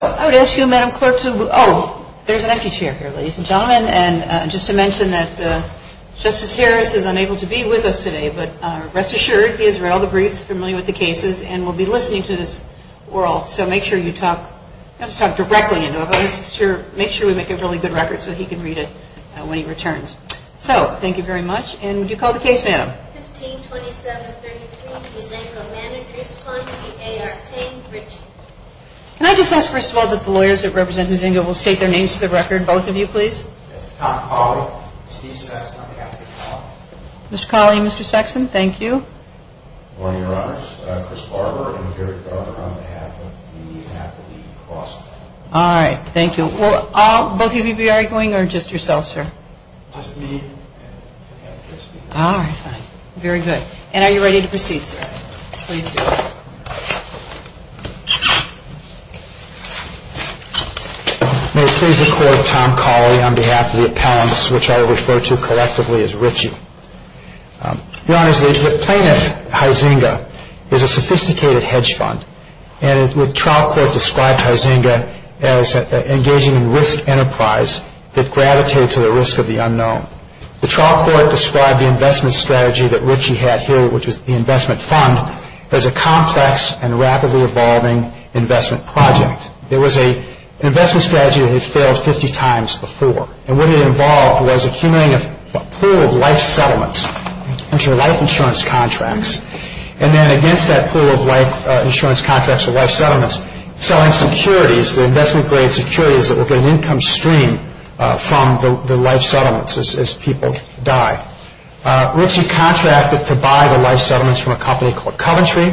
I would ask you, Madam Clerk, to... Oh, there's an empty chair here, ladies and gentlemen. And just to mention that Justice Sears is unable to be with us today, but rest assured, he has read all the briefs, is familiar with the cases, and will be listening to this world. So make sure you talk... Not to talk directly into him, but make sure we make a really good record so he can read it when he returns. So, thank you very much, and do call the case now. 162732, Hizenga Managers Fund v. A. R. King, Ritchie. Can I just ask, first of all, that the lawyers that represent Hizenga will state their names for the record. Both of you, please. Mr. Colley and Mr. Sexton, thank you. All right, thank you. Will both of you be arguing, or just yourself, sir? All right, fine. Very good. And are you ready to proceed? May it please the Court, I'm Tom Colley on behalf of the accountants, which I will refer to collectively as Ritchie. Your Honor, the plaintiff, Hizenga, is a sophisticated hedge fund, and the trial court described Hizenga as engaging in risk enterprise that gravitates to the risk of the unknown. The trial court described the investment strategy that Ritchie has here, which is the investment fund, as a complex and rapidly evolving investment project. There was an investment strategy that had failed 50 times before, and what it involved was accumulating a pool of life settlements into life insurance contracts, and then against that pool of life insurance contracts or life settlements, selling securities, the investment-grade securities that were going to income stream from the life settlements as people died. Ritchie contracted to buy the life settlements from a company called Coventry,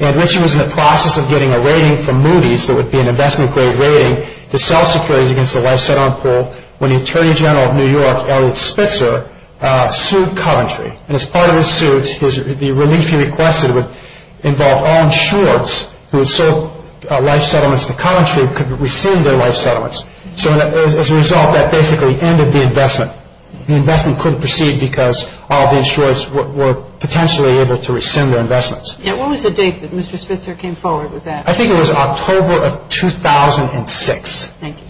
and Ritchie was in the process of getting a rating from Moody's that would be an investment-grade rating to sell securities against a life settlement pool when the Attorney General of New York, Elliot Spitzer, sued Coventry. And as part of his suit, the relief he requested would involve all insurers who had sold life settlements to Coventry could receive their life settlements. So as a result, that basically ended the investment. The investment couldn't proceed because all the insurers were potentially able to extend their investments. And what was the date that Mr. Spitzer came forward with that? I think it was October of 2006. Thank you.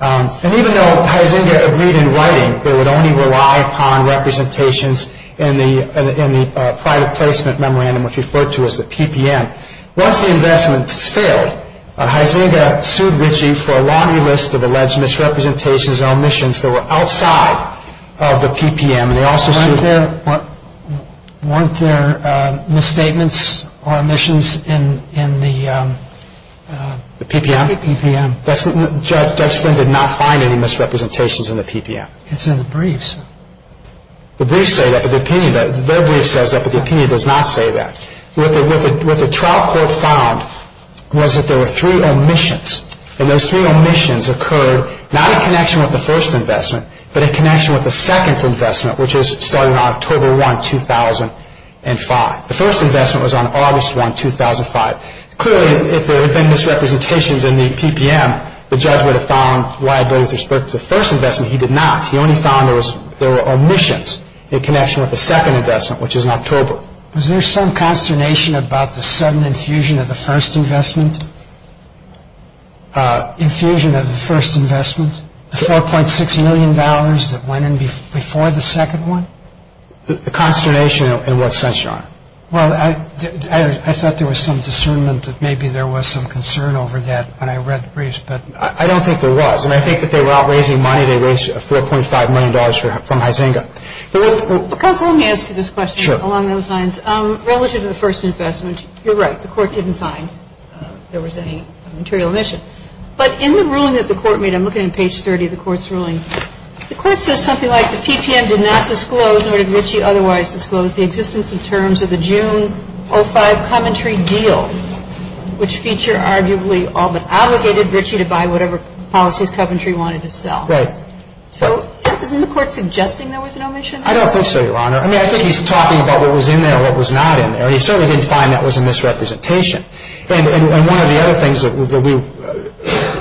And even though Hyzenda agreed in writing that it would only rely upon representations in the private placement memorandum, which is referred to as the PPM, once the investment failed, Hyzenda sued Ritchie for a laundry list of alleged misrepresentations and omissions that were outside of the PPM. Weren't there misstatements or omissions in the PPM? The PPM. Judge Flynn did not find any misrepresentations in the PPM. It's in the briefs. The briefs say that, but the opinion does not say that. What the trial court found was that there were three omissions, and those three omissions occurred not in connection with the first investment, but in connection with the second investment, which is starting on October 1, 2005. The first investment was on August 1, 2005. Clearly, if there had been misrepresentations in the PPM, the judge would have found liability with respect to the first investment. He did not. He only found there were omissions in connection with the second investment, which is in October. Was there some consternation about the sudden infusion of the first investment? Infusion of the first investment? The $4.6 million that went in before the second one? The consternation in what sense, John? Well, I thought there was some discernment that maybe there was some concern over that when I read the briefs, but I don't think there was, and I think that they were not raising money. They raised $4.5 million from Hyzenda. Let me ask you this question along those lines. Relative to the first investment, you're right, the court didn't find there was any material omission, but in the ruling that the court made, I'm looking at page 30 of the court's ruling, the court says something like, The PPM did not disclose, nor did Ritchie otherwise disclose, the existence and terms of the June 2005 Coventry deal, which feature arguably obligated Ritchie to buy whatever policies Coventry wanted to sell. Right. So isn't the court suggesting there was an omission? I don't think so, Your Honor. I mean, I think he's talking about what was in there and what was not in there, and he certainly didn't find that was a misrepresentation. And one of the other things that we,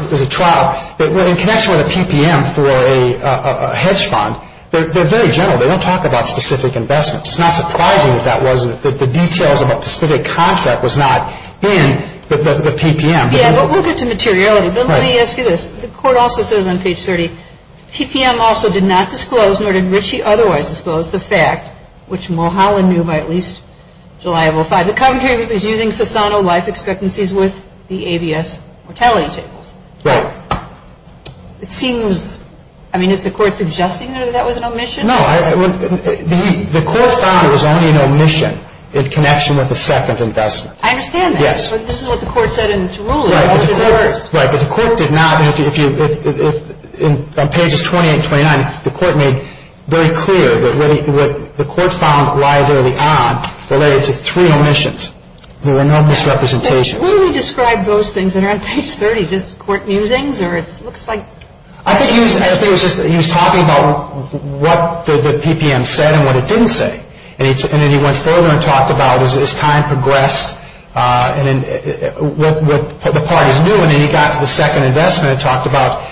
the trial, in connection with the PPM for a hedge fund, they're very general. They don't talk about specific investments. It's not surprising that that was, that the details of a specific contract was not in the PPM. Yeah, relative to materiality. Let me ask you this. The court also says on page 30, The PPM also did not disclose, nor did Ritchie otherwise disclose, the fact, which Mulholland knew by at least July of 2005, that Coventry was using Cesano life expectancies with the ABS retaliation. Right. It seems, I mean, is the court suggesting that that was an omission? No. The court offers only an omission in connection with the second investment. I understand that. Yes. But this is what the court said in its ruling. Right. But the court did not. And if you, if, on pages 20 and 29, the court made very clear that what the court found liability on related to three omissions. There were no misrepresentations. What do we describe those things that are on page 30? Is it court musings, or it looks like? I think he was talking about what the PPM said and what it didn't say. And then he went further and talked about, as time progressed, what the parties knew, and then he got to the second investment and talked about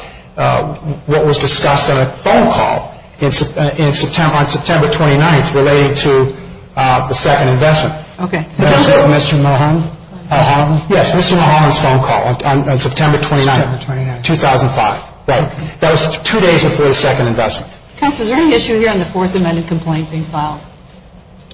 what was discussed on a phone call on September 29th related to the second investment. Okay. Mr. Mulholland? Mulholland? Yes, Mr. Mulholland's phone call on September 29th. September 29th. 2005. Right. That was two days before the second investment. Counsel, is there an issue here on the Fourth Amendment complaint being filed?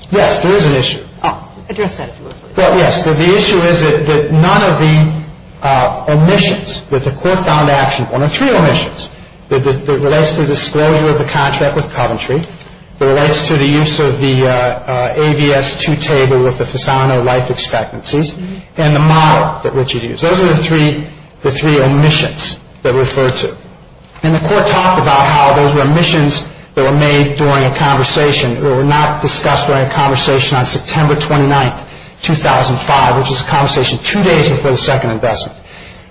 Yes, there is an issue. Oh, address that, please. Yes, the issue is that none of the omissions that the court found actionable, and they're true omissions, that relates to the disclosure of the contract with Coventry, that relates to the use of the AVS 2 table with the Fasano life expectancies, and the model that Richard used. Those are the three omissions that were referred to. And the court talked about how those were omissions that were made during a conversation or were not discussed during a conversation on September 29th, 2005, which is a conversation two days before the second investment.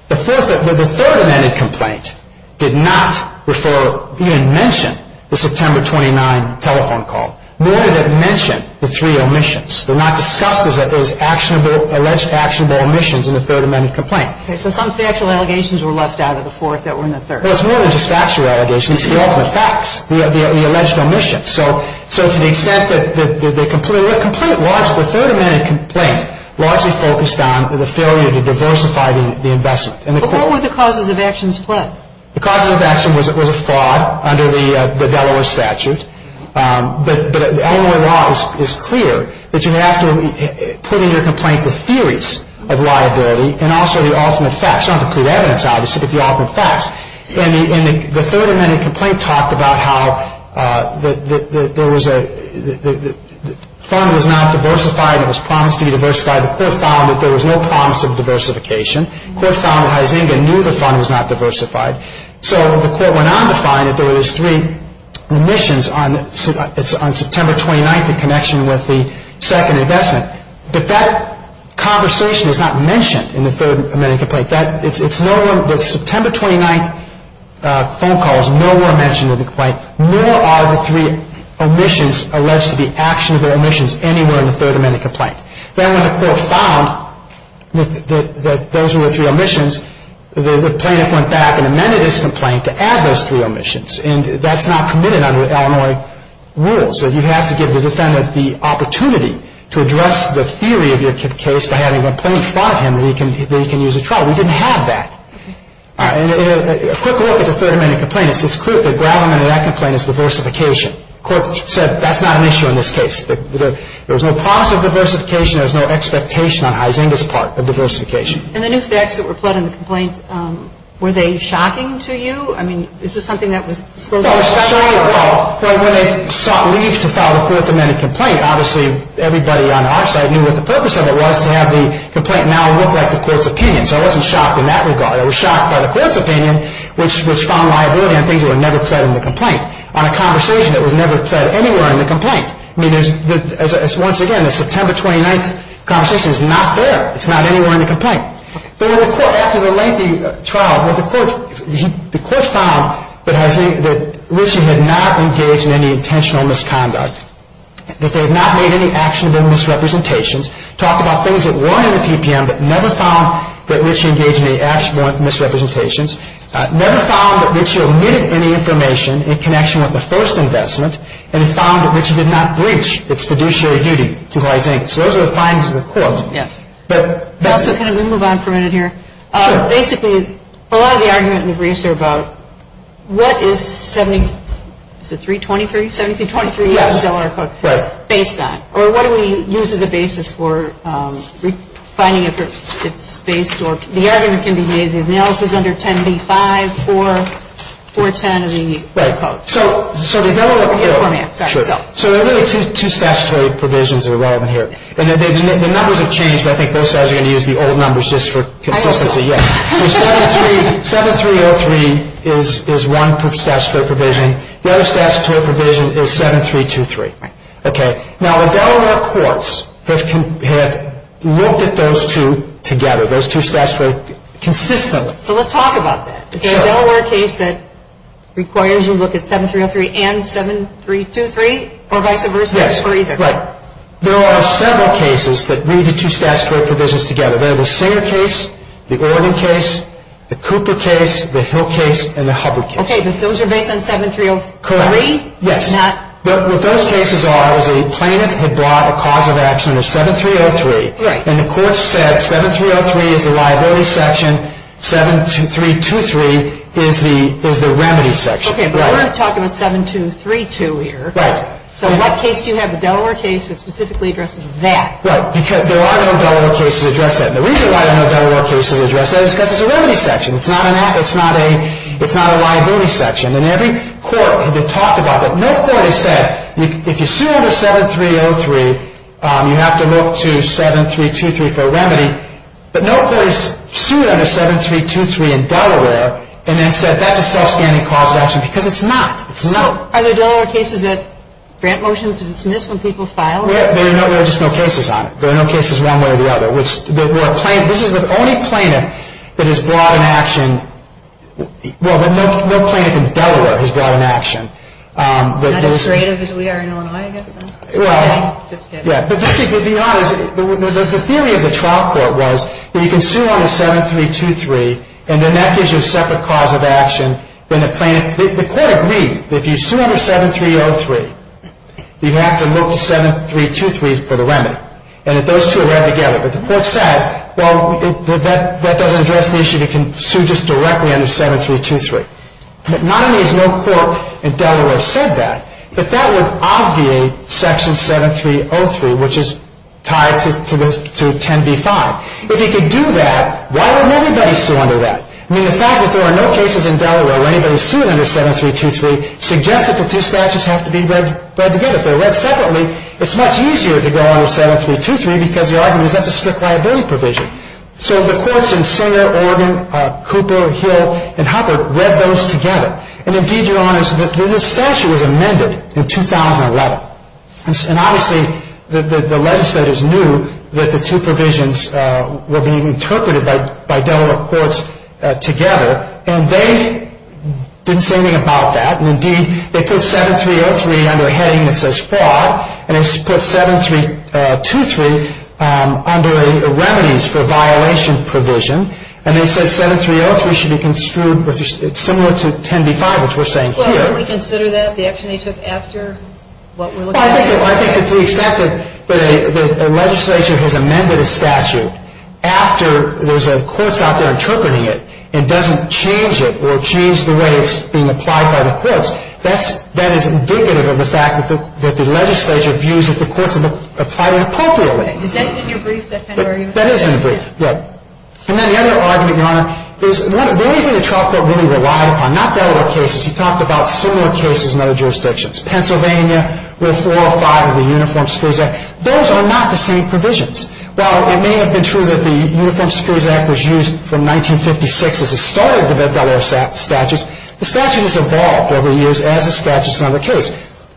The Third Amendment complaint did not refer or even mention the September 29th telephone call. Nor did it mention the three omissions. They're not discussed as alleged actionable omissions in the Third Amendment complaint. Okay. So some factual allegations were left out of the Fourth that were in the Third. There's more than just factual allegations. We see all the facts. We have the alleged omissions. So to the extent that the complaint was, the Third Amendment complaint largely focused on the failure to diversify the investment. What were the causes of action split? The cause of action was a fraud under the Delaware statutes, but under the law it's clear that you have to put in your complaint the theories of liability and also the ultimate facts, not the pre-evidence, obviously, but the ultimate facts. The Third Amendment complaint talked about how the fund was not diversified. It was promised to be diversified. The Fourth found that there was no promise of diversification. The Fourth found that Hizinga knew the fund was not diversified. So the Fourth went on to find that there was three omissions on September 29th in connection with the second investment. But that conversation is not mentioned in the Third Amendment complaint. The September 29th phone call is no longer mentioned in the complaint, nor are the three omissions alleged to be actions or omissions anywhere in the Third Amendment complaint. Then when the Fourth found that those were the three omissions, the plaintiff went back and amended his complaint to add those three omissions, and that's not committed under Illinois rules. So you have to give the defendant the opportunity to address the theory of your case by having the plaintiff find him that he can use a trial. We didn't have that. A quick look at the Third Amendment complaint. It's clear that the bottom line of that complaint is diversification. The Court said that's not an issue in this case. There was no promise of diversification. There was no expectation on Hizinga's part of diversification. And the new facts that were fled in the complaint, were they shocking to you? I mean, is this something that was spoken about? Well, it's not shocking at all. When they sought leave to file the Fourth Amendment complaint, obviously everybody on our side knew what the purpose of it was, to have the complaint now look at the Court's opinion. So I wasn't shocked in that regard. I was shocked by the Court's opinion, which was strong liability on things that were never said in the complaint, on a conversation that was never said anywhere in the complaint. I mean, once again, the September 29th conversation is not there. It's not anywhere in the complaint. But after the lengthy trial, the Court found that Hizinga had not engaged in any intentional misconduct. That they had not made any actionable misrepresentations. Talked about things that were in the PPM, but never found that Richard engaged in any actionable misrepresentations. Never found that Richard omitted any information in connection with the first investment. And found that Richard did not breach its fiduciary duty. So those are the findings of the Court. Yes. Can I just move on for a minute here? Basically, a lot of the arguments we've raised here about, what is the $323,000 based on? Or what do we use as a basis for finding if it's based on? The argument can be made if the amount is under $10B5, $4, $410, and we need credit cards. So there are really two statutory provisions that are relevant here. And the numbers have changed. I think those guys are going to use the old numbers just for consistency. Yes. So 7303 is one statutory provision. The other statutory provision is 7323. Okay. Now, Delaware courts have looked at those two together. Those two statutory provisions consistently. So let's talk about this. Is there a Delaware case that requires you to look at 7303 and 7323? Or vice versa? Yes. Right. There are several cases that move the two statutory provisions together. There's the Singer case, the Ordon case, the Cooper case, the Hill case, and the Hubbard case. Okay. So those are based on 7303? Correct. Yes. But what those cases are is a plaintiff has brought a cause of action of 7303. Right. And the court said 7303 is a liability section, 72323 is the remedy section. Okay. But we're not talking about 7232 here. Right. So what case do you have, a Delaware case that specifically addresses that? Well, there are no Delaware cases that address that. And the reason why there are no Delaware cases that address that is because it's a remedy section. It's not a liability section. And every court has been talking about that. No court has said if you sue under 7303, you have to look to 7323 for a remedy. But no court has sued under 7323 in Delaware and then said that's a self-standing cause of action because it's not. It's not. Are there Delaware cases that grant motions to dismiss when people file? No. There are just no cases on it. There are no cases one way or the other. This is the only plaintiff that has brought an action. Well, no plaintiff in Delaware has brought an action. Not as great as we are in Illinois, I guess. Well, yeah. But the theory of the trial court was that you can sue under 7323, and then that gives you a separate cause of action than the plaintiff. And the court agreed that if you sue under 7303, you have to look to 7323 for the remedy. And those two are there together. But the court said, well, that doesn't address the issue. You can sue just directly under 7323. Not only has no court in Delaware said that, but that was obviously section 7303, which is tied to 10b-5. If you can do that, why wouldn't everybody sue under that? I mean, the fact that there are no cases in Delaware where anybody is suing under 7323 suggests that the two statutes have to be read together. If they're read separately, it's much easier to go under 7323 because the argument is that there's a strict liability provision. So the courts in Sonoma, Oregon, Cooper, Hill, and Hopper read those together. And, indeed, your Honor, the statute was amended in 2011. And, obviously, the legislators knew that the two provisions were being interpreted by Delaware courts together. And they didn't say anything about that. And, indeed, they put 7303 under a heading that says fraud. And they put 7323 under the remedies for violations provision. And they said 7303 should be construed similar to 10b-5, which we're saying here. Do we consider that the action they took after what we're looking at here? Well, I think it's expected that a legislature has amended a statute after there's a court out there interpreting it and doesn't change it or change the way it's being applied by the courts. That is indicative of the fact that the legislature views that the courts have applied it appropriately. But that's in the brief, that's in the argument? That is in the brief, yes. And then the other argument, Your Honor, is one of the things that the trial court really relied upon, not Delaware cases. You talked about similar cases in other jurisdictions. Pennsylvania, Rule 405 of the Uniform Scores Act, those are not the same provisions. While it may have been true that the Uniform Scores Act was used from 1956 as the start of the Delaware statutes, the statute has evolved over the years as a statute and not a case.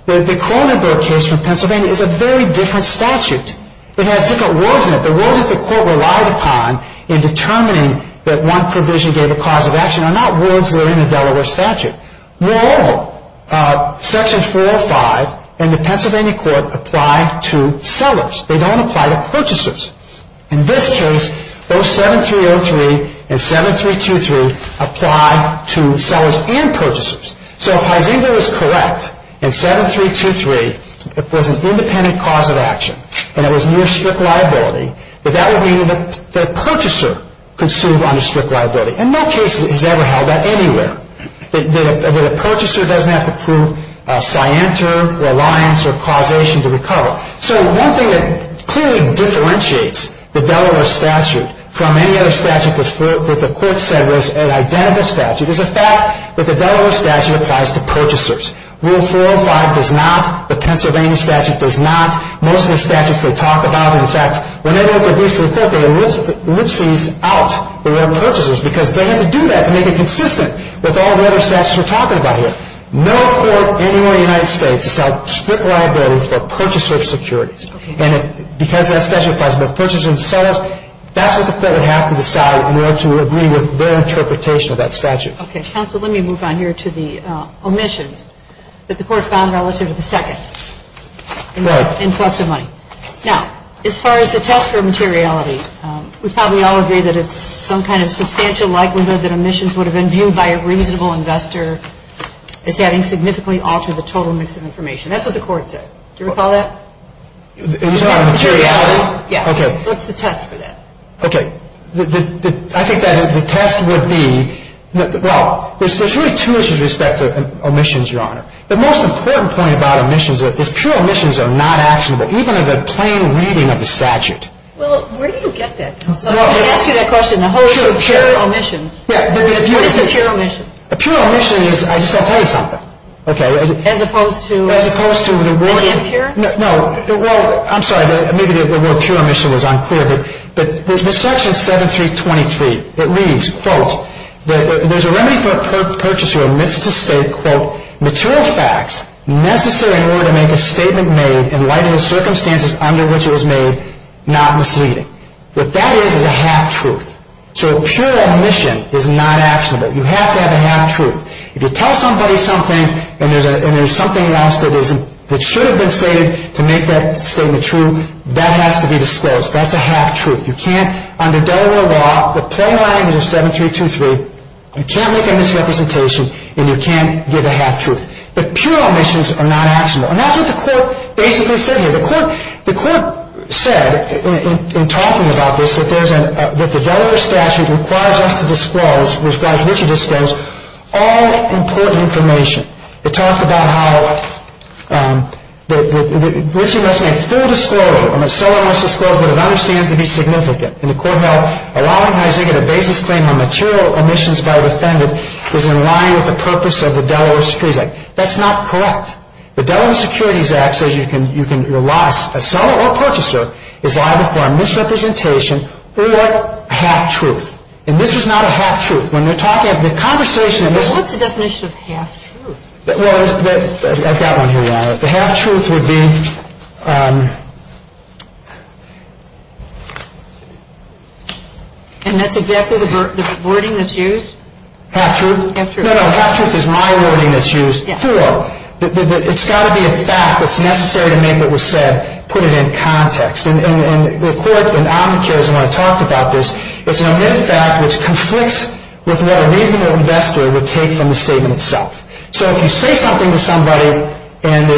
The Kronenberg case from Pennsylvania is a very different statute. It has different rules in it. The rules that the court relied upon in determining that one provision gave a cause of action are not rules that are in the Delaware statute. Moreover, Sections 405 in the Pennsylvania court apply to sellers. They don't apply to purchasers. In this case, those 7303 and 7323 apply to sellers and purchasers. So if I read this correct, in 7323, it was an independent cause of action. That is, no strict liability. But that would mean that the purchaser could sue under strict liability. And no case has ever had that anywhere. The purchaser doesn't have to prove scienter, reliance, or causation to recover. So one thing that clearly differentiates the Delaware statute from any other statute that the court said was an identity statute is the fact that the Delaware statute applies to purchasers. Rule 405 does not. The Pennsylvania statute does not. Most of the statutes we'll talk about, in fact, they list things out for their purchasers because they have to do that to make it consistent with all the other statutes we're talking about here. No court anywhere in the United States has had strict liability for purchaser securities. And it depends on the purchaser themselves. That's what the federal has to decide in order to agree with their interpretation of that statute. Okay, counsel, let me move on here to the omissions that the court found relative to the second. Right. Now, as far as the test for materiality, we probably all agree that it's some kind of substantial likelihood that omissions would have been viewed by a reasonable investor as having significantly altered the total mix of information. That's what the court said. Do you recall that? Okay. I think that the test would be, well, there's really two issues with respect to omissions, Your Honor. The most important point about omissions is that pure omissions are not actionable, even in the plain reading of the statute. Well, where do you get that from? A pure omission is, I just want to tell you something. Okay. As opposed to... As opposed to the word... The word pure? No. I'm sorry. But there's Section 7223. It reads, quote, There's a remedy for a purchaser who omits to say, quote, But that is a half-truth. So a pure omission is not actionable. You have to have a half-truth. If you tell somebody something and there's something else that should have been stated to make that statement true, that has to be disclosed. That's a half-truth. You can't, under Delaware law, the plain language of 7223, you can't make a misrepresentation, and you can't give a half-truth. But pure omissions are not actionable. And that's what the court basically said here. The court said, in talking about this, that the Delaware statute requires us to disclose, requires Richard to disclose, all important information. It talks about how Richard must have full disclosure, and the seller must disclose what is understood to be significant. And the court said, That's not correct. The Delaware Securities Act says you can rely, a seller or purchaser is liable for a misrepresentation or a half-truth. And this is not a half-truth. What's the definition of half-truth? I've got one here now. The half-truth would be... And that's exactly the wording that's used? Half-truth? No, no, half-truth is my wording that's used. It's got to be a fact. It's necessary to make what was said, put it in context. And the court and the advocates, and I've talked about this, it's an amended fact which conflicts with what a reasonable investor would take from the statement itself. So if you say something to somebody and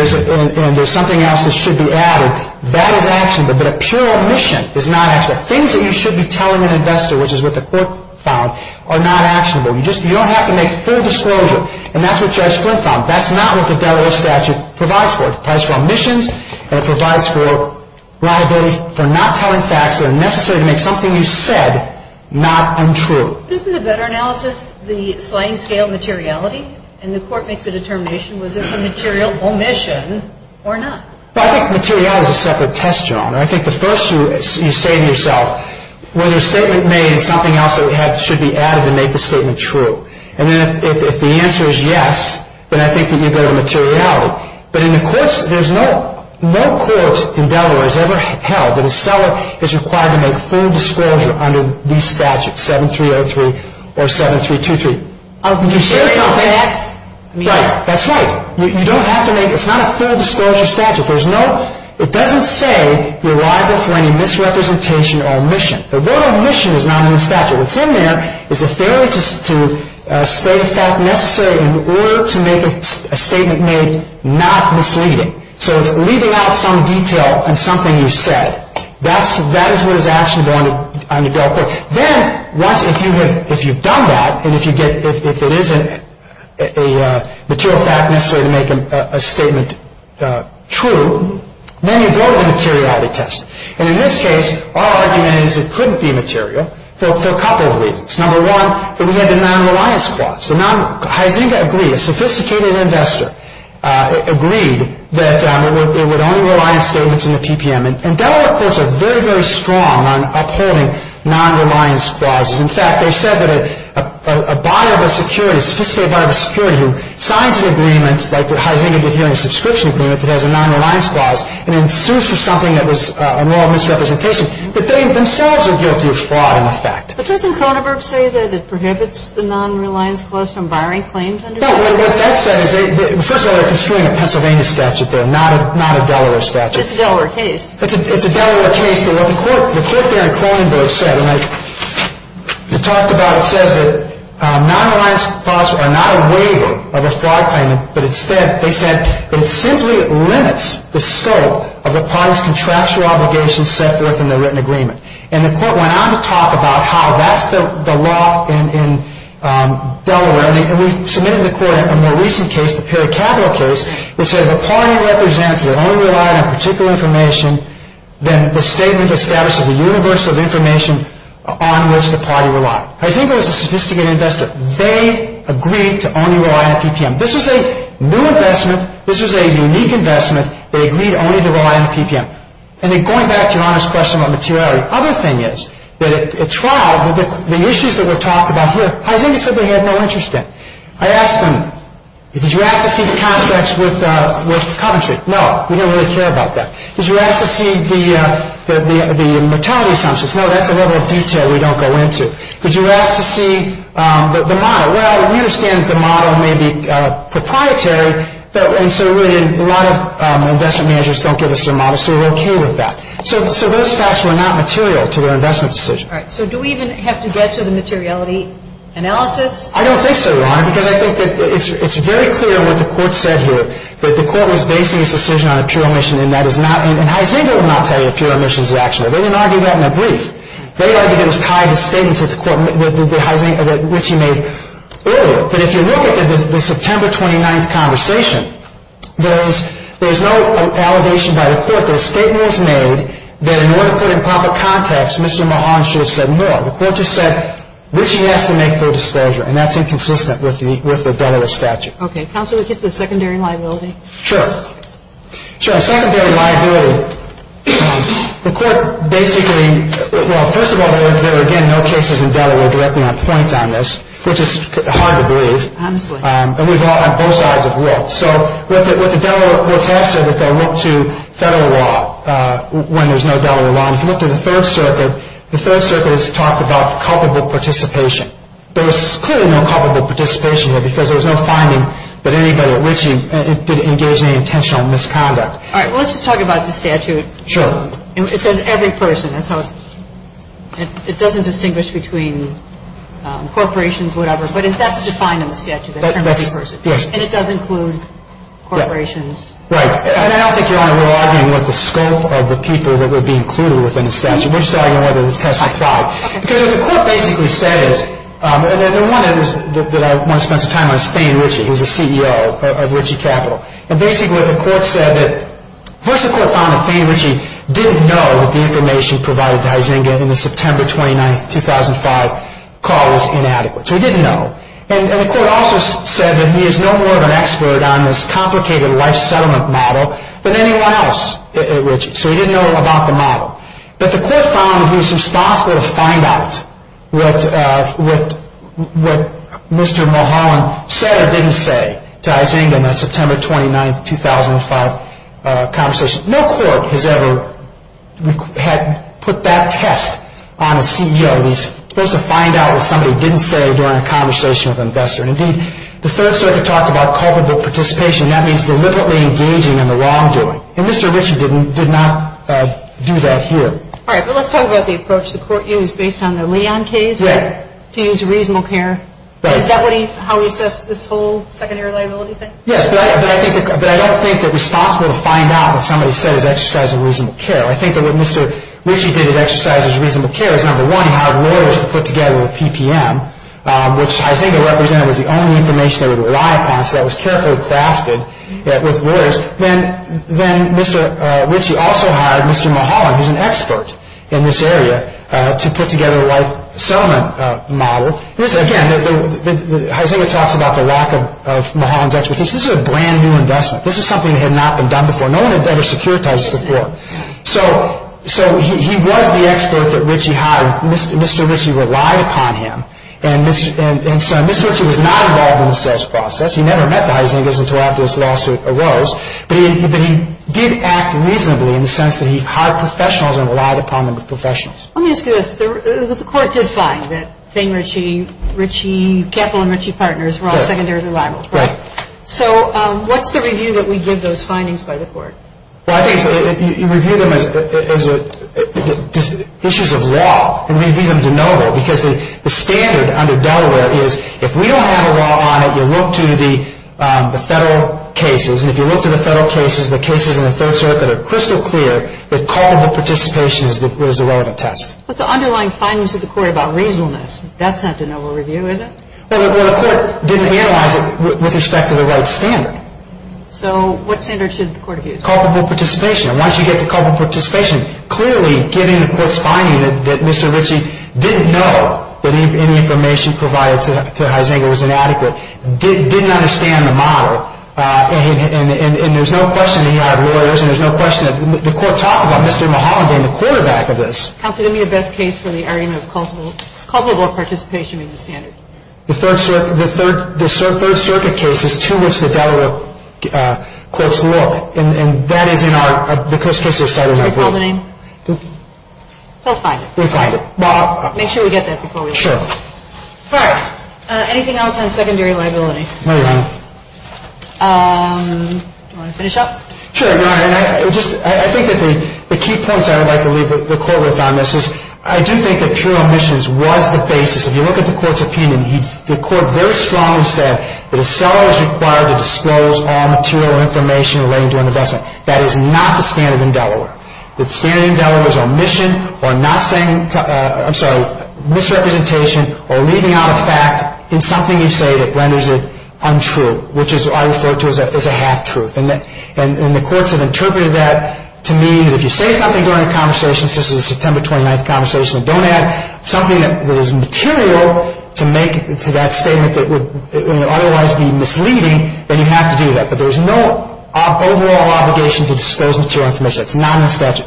there's something else that should be added, that is actionable. But a pure omission is not actionable. Things that you should be telling an investor, which is what the court found, are not actionable. You don't have to make full disclosure, and that's what the court found. That's not what the Delaware statute provides for. It provides for omissions, and it provides for liability for not telling facts that are necessary to make something you said not untrue. Isn't the better analysis the fine-scale materiality? And the court makes the determination whether it's a material omission or not. Well, I think materiality is a separate test, Joan. I think the first you say to yourself, when the statement is made, is there something else that should be added to make the statement true? And then if the answer is yes, then I think that you go to materiality. But in the courts, there's no court in Delaware that has ever held that a seller is required to make full disclosure under these statutes, 7303 or 7323. I would be serious about that. That's right. You don't have to make it. It's not a full disclosure statute. It doesn't say you're liable for any misrepresentation or omission. The word omission is not in the statute. And from there, it's a failure to state a fact necessary in order to make a statement made not misleading. So leaving out some detail in something you said, that is what is actually going on in the Delaware court. Then, once you've done that, and if it isn't a material fact necessary to make a statement true, then you go to the materiality test. And in this case, all I'm saying is it couldn't be material. For a couple of reasons. Number one, that we had a non-reliance clause. A sophisticated investor agreed that it would only rely on statements in the PPM. And Delaware courts are very, very strong on upholding non-reliance clauses. In fact, they said that a buyer of a security, a sophisticated buyer of a security, signs an agreement, like the Hydenia Defending Subscription Agreement, that has a non-reliance clause, and then sues for something that was a moral misrepresentation. But they themselves are guilty of fraud in effect. But doesn't Kronenberg say that it prohibits the non-reliance clause from buying claims under Delaware? No, no, what that says is, first of all, they're construing a Pennsylvania statute there, not a Delaware statute. It's a Delaware case. It's a Delaware case. But what the court there in Kronenberg said, and they talked about it, says that non-reliance clauses are not a waiver of a fraud claim, but instead they said that it simply limits the scope of the party's contractual obligations set forth in their written agreement. And the court went on to talk about how that's the law in Delaware. And we submitted to the court in a more recent case, the Perot-Tagel case, which says if a party represents your only reliance on particular information, then the statement establishes a universal information on which the party relies. And I think it was a sophisticated investor. They agreed to only rely on PPM. This is a new investment. This is a unique investment. They agreed only to rely on PPM. And then going back to your honest question on materiality, the other thing is that at trial, the issues that were talked about here, I think they said they had no interest in. I asked them, did you ask to see the contracts with Coventry? No, we didn't really care about that. Did you ask to see the maternity assumptions? No, that's a little bit of detail we don't go into. Did you ask to see the model? Well, we understand that the model may be proprietary, but so really a lot of investment managers don't give us their models, so we're okay with that. So those types were not material to our investment decision. All right, so do we even have to get to the materiality analysis? I don't think so, Ron, because I think it's very clear what the court said here, but the court was basing its decision on a pure omission, and that is not, and I think it would not tell you a pure omission is an action. They didn't argue that in the brief. They argued it was a common statement that the court, that Richie made earlier, but if you look at the September 29th conversation, there is no allegation by the court that a statement was made that in order to put it in proper context, Mr. Mahon should have said no. The court just said Richie has to make full disclosure, and that's inconsistent with the federal statute. Okay, counsel, is this a secondary liability? Sure. Sure, a secondary liability. The court basically, well, first of all, there are, again, no cases in Delaware directly on point on this, which is hard to believe, but we've got both sides of the road. So with the Delaware court's answer that they'll look to federal law when there's no Delaware law, if you look to the Third Circuit, the Third Circuit has talked about culpable participation. There was clearly no culpable participation here because there was no finding that anybody at Richie did engage in any intentional misconduct. All right, well, let's just talk about the statute. Sure. It says every person, and so it doesn't distinguish between corporations, whatever, but it does define the statute in terms of every person. Yes. And it does include corporations. Right. And I don't think you want to rely anymore on the scope of the people that would be included within the statute. We're just talking about it as testifying. Because what the court basically said is, and the one that I want to spend some time on is Petey Richie, who's the CEO of Richie Capital. And basically the court said that, of course the court found that Petey Richie didn't know that the information provided by Izinga in the September 29, 2005 call was inadequate. So he didn't know. And the court also said that he is no more of an expert on this complicated life settlement model than anyone else at Richie. So he didn't know about the model. But the court found he was responsible to find out what Mr. Mulholland said or didn't say to Izinga in that September 29, 2005 conversation. No court has ever put that test on a CEO. He was supposed to find out what somebody didn't say during a conversation with an investor. And, indeed, the third story talks about culpable participation. That means deliberately engaging in the wrongdoing. And Mr. Richie did not do that here. All right. But let's talk about the approach the court used based on the Leon case. Yes. To use reasonable care. Right. Is that how we assess this whole secondary liability thing? Yes. But I don't think it was possible to find out what somebody said as exercising reasonable care. I think that what Mr. Richie did in exercising reasonable care is, number one, hire lawyers to put together a PPM, which I think it represented was the only information they would rely upon. So that was carefully crafted with lawyers. Then Mr. Richie also hired Mr. Mulholland, who is an expert in this area, to put together a life settlement model. Again, Jose talks about the lack of Mulholland's expertise. This is a brand-new investment. This is something that had not been done before. No one had ever securitized before. So he was the expert that Richie hired. Mr. Richie relied upon him. And so Mr. Richie was not involved in the sales process. He never met that, I think, until after this lawsuit arose. But he did act reasonably in the sense that he hired professionals and relied upon them as professionals. Let me ask you this. The court did find that Kathleen Richie's partners were all secondary and liable. So what's the review that we give those findings by the court? Well, I think you review them as issues of law. And we leave them deniable because the standard under Delaware is, if we don't have a law on it, you look to the federal cases. And if you look to the federal cases, the cases in the third circuit are crystal clear that culpable participation is the relevant test. But the underlying findings of the court about reasonableness, that's not the noble review, is it? Well, the court didn't analyze it with respect to the right standard. So what standard should the court review? Culpable participation. Once you get the culpable participation, clearly given the court's finding that Mr. Richie didn't know that any information provided to Heisinger was inadequate, didn't understand the model, and there's no question that there are errors, and there's no question that the court talked about Mr. Mahajan, the quarterback of this. How could it be the best case for the argument of culpable participation in the standard? The third circuit case is two weeks with Delaware, and that is in our, because it's in our group. So it's fine. We're fine. Make sure we get that proposal. Sure. All right. Anything else on secondary liability? No, Your Honor. Do you want to finish up? Sure, Your Honor. I think the key points I would like to leave the court with on this is I do think that pure omissions was the basis. If you look at the court's opinion, the court very strongly said that a seller is required to disclose all material information related to an investment. That is not the standard in Delaware. The standard in Delaware is omission or misrepresentation or leaving out a fact in something you say that renders it untrue, which I refer to as a half-truth. And the courts have interpreted that to mean if you say something during a conversation, such as a September 29th conversation, something that is material to make that statement that would otherwise be misleading, then you have to do that. But there's no overall obligation to disclose material information. It's not in the statute.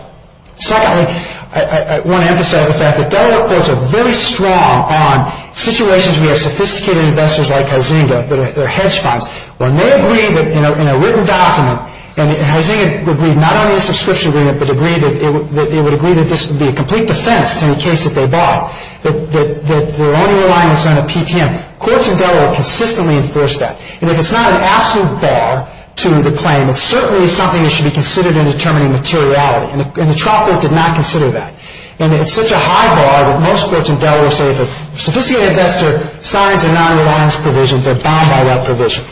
Secondly, I want to emphasize the fact that Delaware courts are very strong on situations where sophisticated investors like Heisinger, their hedge funds, when they agree in a written document, and Heisinger would agree not only in a subscription agreement, but agree that this would be a complete defense in the case that they bought, that their only reliance is on a PTM. Courts in Delaware consistently enforce that. And if it's not an absolute bar to the claim, it's certainly something that should be considered in determining materiality. And the trial court did not consider that. And it's such a high bar that most courts in Delaware say if a sophisticated investor signs a nonreliance provision, they're bound by that provision.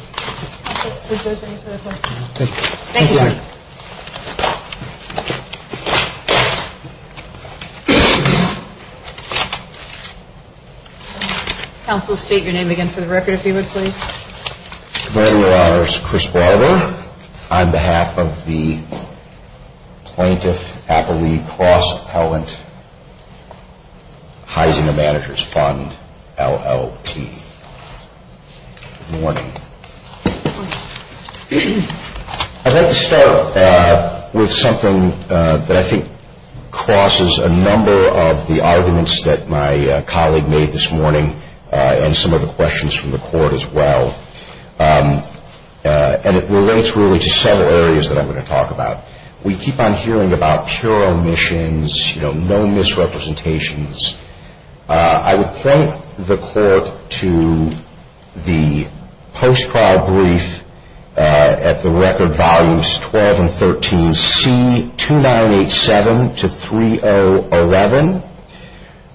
Thank you. Counsel, state your name again for the record, if you would, please. Good morning, Your Honors. Chris Barber on behalf of the Plaintiff Appellee Clause Appellant Heisinger Managers Fund, LLP. Good morning. I'd like to start with something that I think crosses a number of the arguments that my colleague made this morning and some of the questions from the court as well. And it relates really to several areas that I'm going to talk about. We keep on hearing about pure omissions, no misrepresentations. I would point the court to the post-trial brief at the record volumes 12 and 13, C2987 to 3011,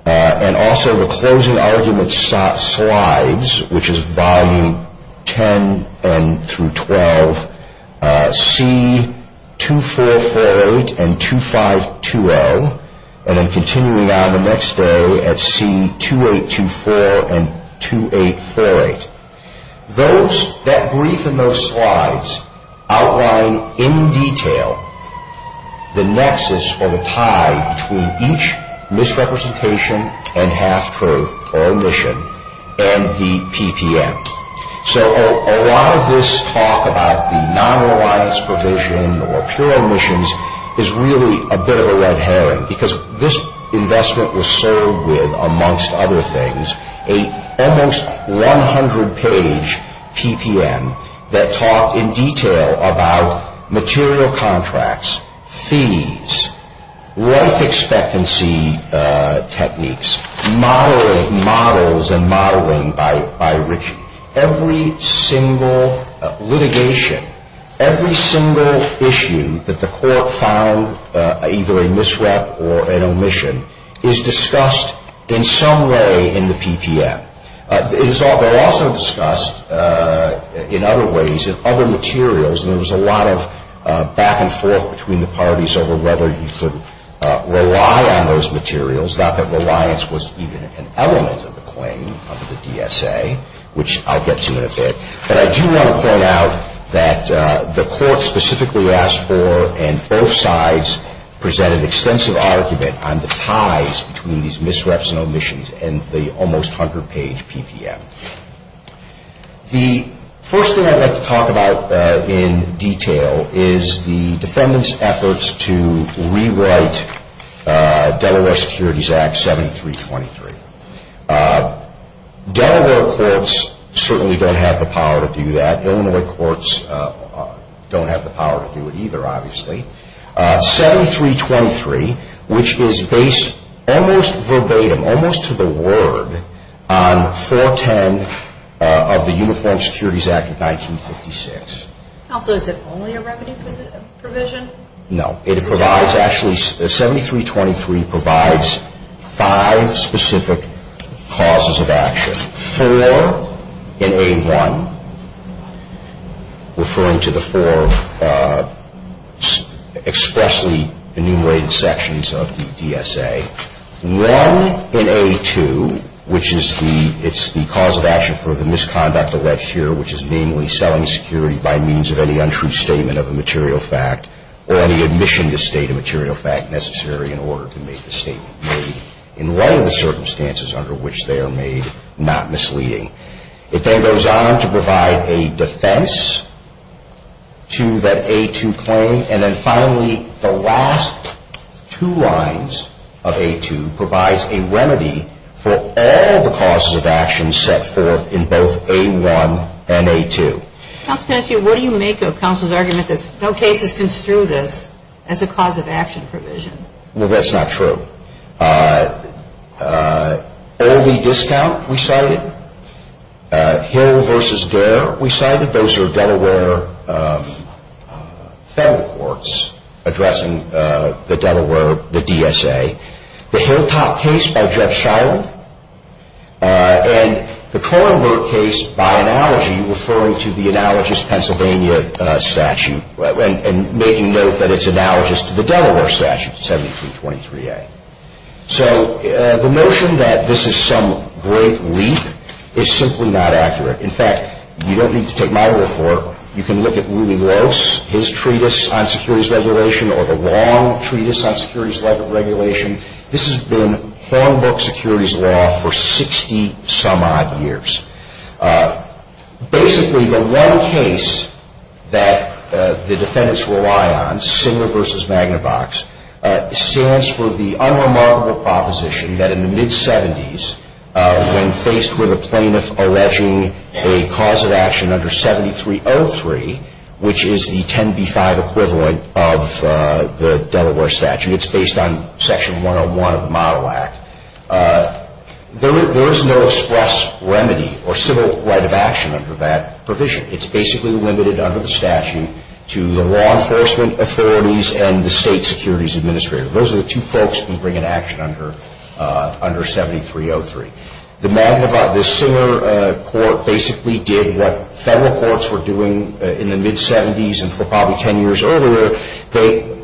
and also the closing argument slides, which is volume 10 through 12, C2448 and 2520, and then continuing on the next day at C2824 and 2848. Those, that brief in those slides, outline in detail the nexus or the tie between each misrepresentation and half-proof or omission and the PPM. So a lot of this talk about the nonreliance provision or pure omissions is really a bit of a red herring because this investment was served with, amongst other things, an almost 100-page PPM that talked in detail about material contracts, fees, rep expectancy techniques, models and modeling by Ritchie. Every single litigation, every single issue that the court found either a misrep or an omission is discussed in some way in the PPM. It is also discussed in other ways in other materials. There was a lot of back and forth between the parties over whether you should rely on those materials. It was not that reliance was even an element of the claim under the DSA, which I get to in a bit, but I do want to point out that the court specifically asked for and both sides presented extensive argument on the ties between these misreps and omissions and the almost 100-page PPM. The first thing I'd like to talk about in detail is the defendant's efforts to rewrite Delaware Securities Act 7323. Delaware courts certainly don't have the power to do that. Delaware courts don't have the power to do it either, obviously. 7323, which is based almost verbatim, almost to the word, on 410 of the Uniform Securities Act of 1956. Is it only a remedy provision? No. 7323 provides five specific causes of action. Four in A1, referring to the four expressly enumerated sections of the DSA. One in A2, which is the cause of action for the misconduct alleged here, which is mainly selling security by means of any untrue statement of a material fact or the admission to state a material fact necessary in order to make the statement. In one of the circumstances under which they are made not misleading. It then goes on to provide a defense to that A2 claim. And then finally, the last two lines of A2 provides a remedy for all the causes of action set forth in both A1 and A2. What do you make of counsel's argument that no case is construed as a cause of action provision? Well, that's not true. Early discount, we cited. Hearing versus dare, we cited. Those are Delaware federal courts addressing the Delaware, the DSA. The Hilltop case by Judge Schuyler. And the Kronberg case, by analogy, referring to the analogous Pennsylvania statute, and making note that it's analogous to the Delaware statute, 17.3a. So, the notion that this is some great leap is simply not accurate. In fact, you don't need to take my word for it. You can look at Rooney Rose, his treatise on securities regulation, or the long treatise on securities regulation. This has been long book securities law for 60 some odd years. Basically, the one case that the defendants rely on, Singer v. Magnavox, stands for the unremarkable proposition that in the mid-70s, when faced with a plaintiff alleging a cause of action under 7303, which is the 10b-5 equivalent of the Delaware statute, it's based on Section 101 of the Model Act, there is no express remedy or civil right of action under that provision. It's basically limited under the statute to the law enforcement authorities and the state securities administrator. Those are the two folks who bring an action under 7303. The Magnavox, the Singer court, basically did what federal courts were doing in the mid-70s and for probably 10 years earlier. They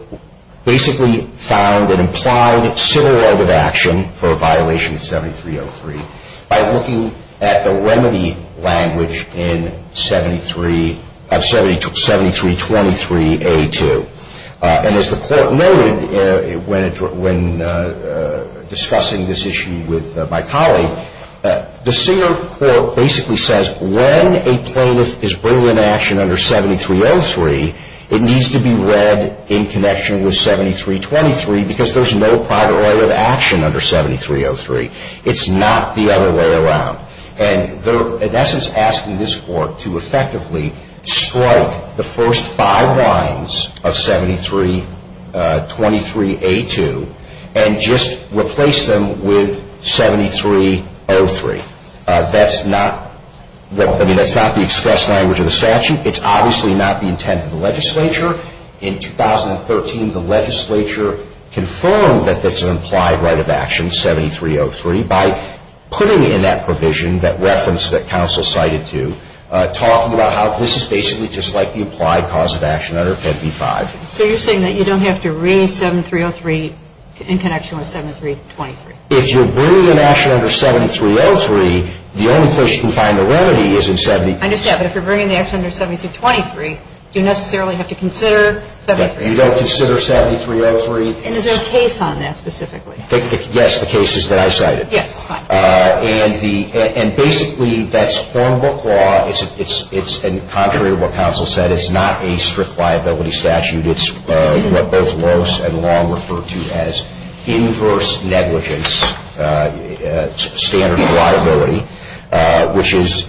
basically found an implied civil right of action for a violation of 7303 by looking at the remedy language in 7323a-2. And as the court noted when discussing this issue with my colleague, the Singer court basically says when a plaintiff is bringing an action under 7303, it needs to be read in connection with 7323 because there's no prior right of action under 7303. It's not the other way around. And they're in essence asking this court to effectively strike the first five lines of 7323a-2 and just replace them with 7303. That's not the express language of the statute. It's obviously not the intent of the legislature. In 2013, the legislature confirmed that there's an implied right of action, 7303, by putting in that provision, that reference that counsel cited to, talking about how this is basically just like the implied cause of action under 55. So you're saying that you don't have to read 7303 in connection with 7323. If you're bringing an action under 7303, the only place you can find the remedy is in 7323. I understand. But if you're bringing the action under 7323, do you necessarily have to consider 7303? You don't consider 7303. And is there a case on that specifically? Yes, the case is that I cited. Yes, fine. And basically, that's formal law. It's contrary to what counsel said. It's not a strict liability statute. It's what both lawyers and law refer to as inverse negligence standard of liability, which is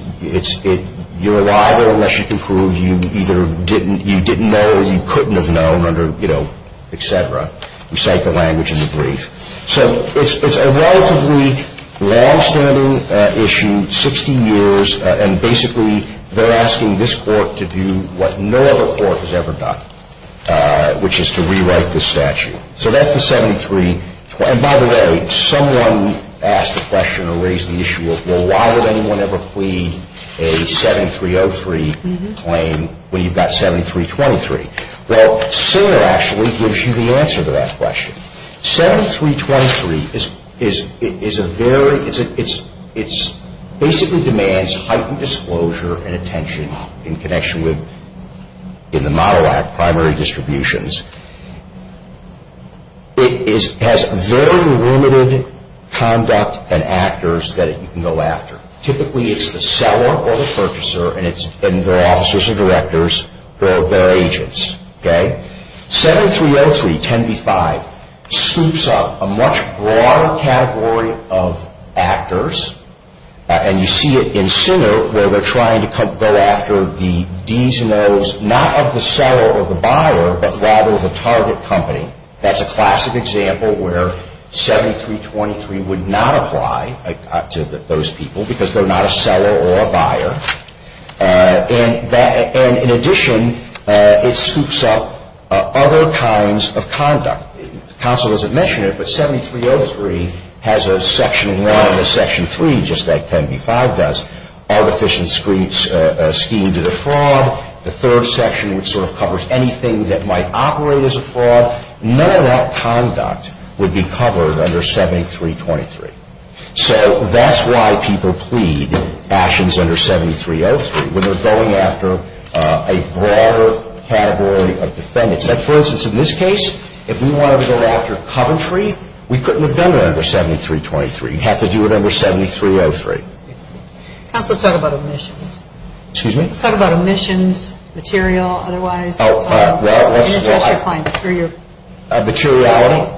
you're liable unless you prove you either didn't know or you couldn't have known, et cetera. We cite the language in the brief. So it's a relatively longstanding issue, 60 years, and basically they're asking this court to do what no other court has ever done, which is to rewrite the statute. So that's the 7323. And by the way, someone asked a question or raised the issue of, well, why would anyone ever plead a 7303 claim when you've got 7323? Well, Singer actually gives you the answer to that question. 7323, it basically demands heightened disclosure and attention in connection with, in the Model Act, primary distributions. It has very limited conduct and actors that you can go after. Typically, it's the seller or the purchaser, and it's then their officers and directors or their agents, okay? 7303, 10b-5, scoops up a much broader category of actors, and you see it in Singer where they're trying to go after the Ds and Os, not of the seller or the buyer, but rather the target company. That's a classic example where 7323 would not apply to those people And in addition, it scoops up other kinds of conduct. The Council doesn't mention it, but 7303 has a section in line with Section 3, just like 10b-5 does. Artificial schemes are a fraud. The third section sort of covers anything that might operate as a fraud. None of that conduct would be covered under 7323. So that's why people plead actions under 7303, when they're going after a broader category of defendants. For instance, in this case, if we wanted to go after Coventry, we couldn't have done it under 7323. You'd have to do it under 7303. The Council said about omissions. Excuse me? It said about omissions, material, otherwise. Materiality,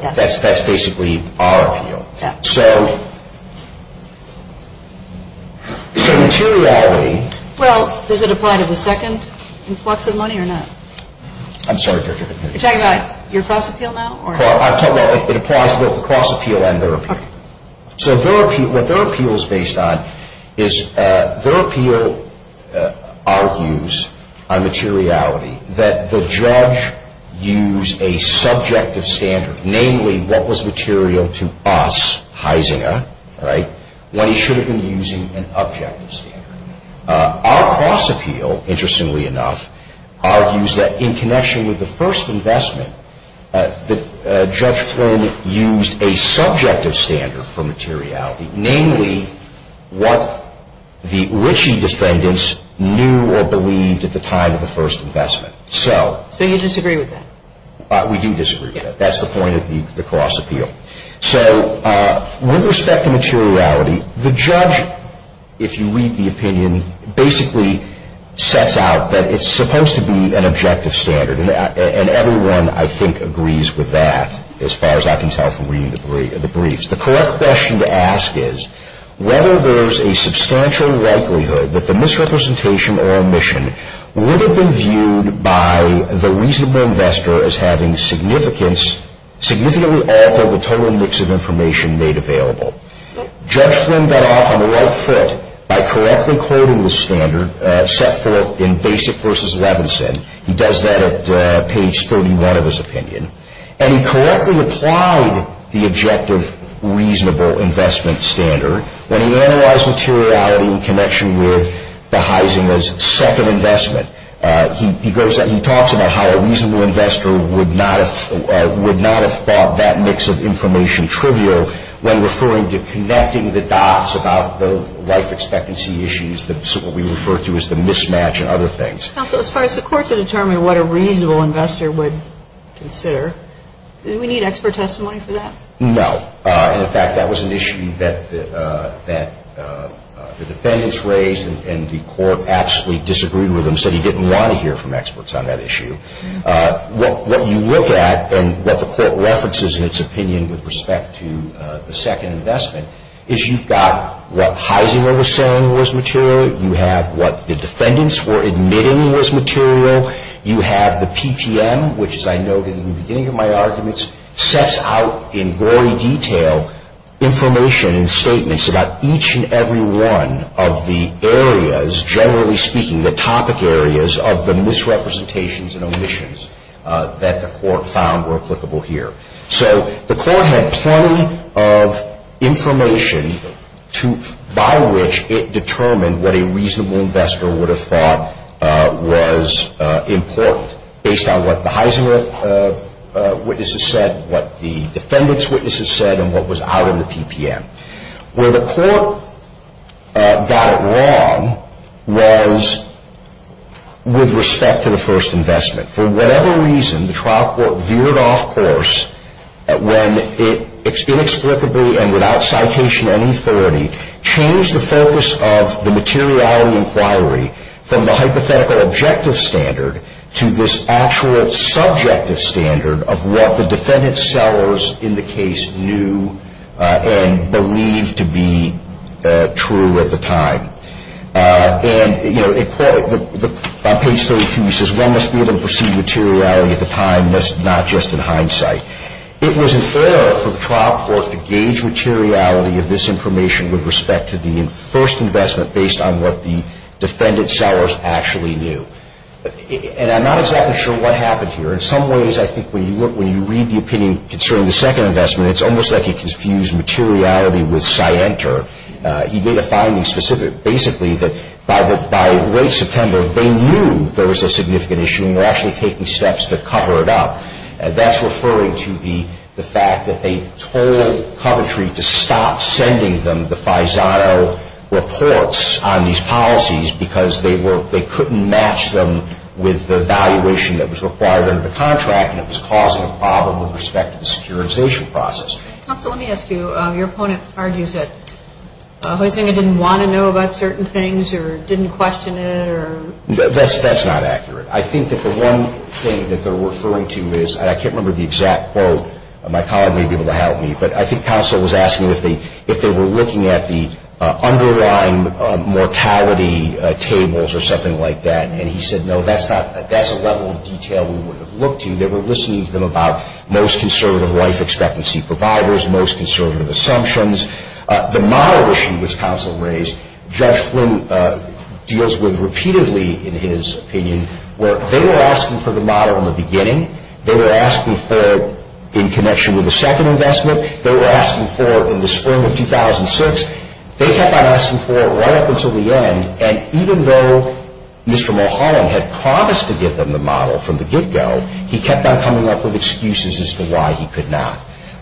that's basically our appeal. So, materiality... Well, does it apply to the second? What's the money or not? I'm sorry? You're talking about your cross-appeal now? I'm talking about the cross-appeal and their appeal. Okay. So what their appeal is based on is their appeal argues on materiality, that the judge used a subjective standard, namely, what was material to us, Heisinger, when he shouldn't have been using an objective standard. Our cross-appeal, interestingly enough, argues that in connection with the first investment, that Judge Flone used a subjective standard for materiality, namely, what the Ritchie defendants knew or believed at the time of the first investment. So you disagree with that? We do disagree with that. That's the point of the cross-appeal. So with respect to materiality, the judge, if you read the opinion, basically sets out that it's supposed to be an objective standard, and everyone, I think, agrees with that, as far as I can tell from reading the briefs. The correct question to ask is whether there's a substantial likelihood that the misrepresentation or omission would have been viewed by the reasonable investor as having significantly altered the total mix of information made available. Judge Flone got off on the right foot by correctly quoting the standard set forth in Basic v. Levinson. He does that at page 31 of his opinion. And he correctly applied the objective reasonable investment standard when he analyzed materiality in connection with Heisenberg's second investment. He talks about how a reasonable investor would not have thought that mix of information trivial when referring to connecting the dots about the life expectancy issues that we refer to as the mismatch and other things. Counsel, as far as the court to determine what a reasonable investor would consider, did we need expert testimony for that? No. In fact, that was an issue that the defendants raised and the court absolutely disagreed with them, said he didn't want to hear from experts on that issue. What you look at and what the court references in its opinion with respect to the second investment is you've got what Heisenberg was saying was material, you have what the defendants were admitting was material, you have the PTM, which, as I noted in the beginning of my arguments, sets out in gory detail information and statements about each and every one of the areas, generally speaking, the topic areas of the misrepresentations and omissions that the court found were applicable here. So the court had plenty of information by which it determined what a reasonable investor would have thought was important based on what the Heisenberg witnesses said, what the defendants' witnesses said, and what was out in the PTM. Where the court got it wrong was with respect to the first investment. For whatever reason, the trial court veered off course when it inexplicably and without citation of any authority changed the focus of the materiality inquiry from the hypothetical objective standard to this actual subjective standard of what the defendant's sellers in the case knew and believed to be true at the time. And in court, on page 32, it says, one must be able to perceive materiality at the time, not just in hindsight. It was unfair for the trial court to gauge materiality of this information with respect to the first investment based on what the defendant's sellers actually knew. And I'm not exactly sure what happened here. In some ways, I think when you read the opinion concerning the second investment, it's almost like he confused materiality with scienter. He made a finding specific, basically, that by late September, they knew there was a significant issue and were actually taking steps to cover it up. That's referring to the fact that they told Coventry to stop sending them the FISAO reports on these policies because they couldn't match them with the valuation that was required under the contract and it was causing a problem with respect to the securitization process. Counsel, let me ask you, your opponent argues that the defendant didn't want to know about certain things or didn't question it or... That's not accurate. I think that the one thing that they're referring to is, and I can't remember the exact quote, my colleague may be able to help me, but I think counsel was asking if they were looking at the underlying mortality tables or something like that, and he said, no, that's not, that's a level of detail we would have looked to. They were listening to them about most conservative life expectancy providers, most conservative assumptions. The model issue that counsel raised, Judge Flynn deals with repeatedly in his opinion, where they were asking for the model in the beginning, they were asking for it in connection with the second investment, they were asking for it in the spring of 2006, they kept on asking for it right up until the end, and even though Mr. Mulholland had promised to give them the model from the get-go, he kept on coming up with excuses as to why he could not.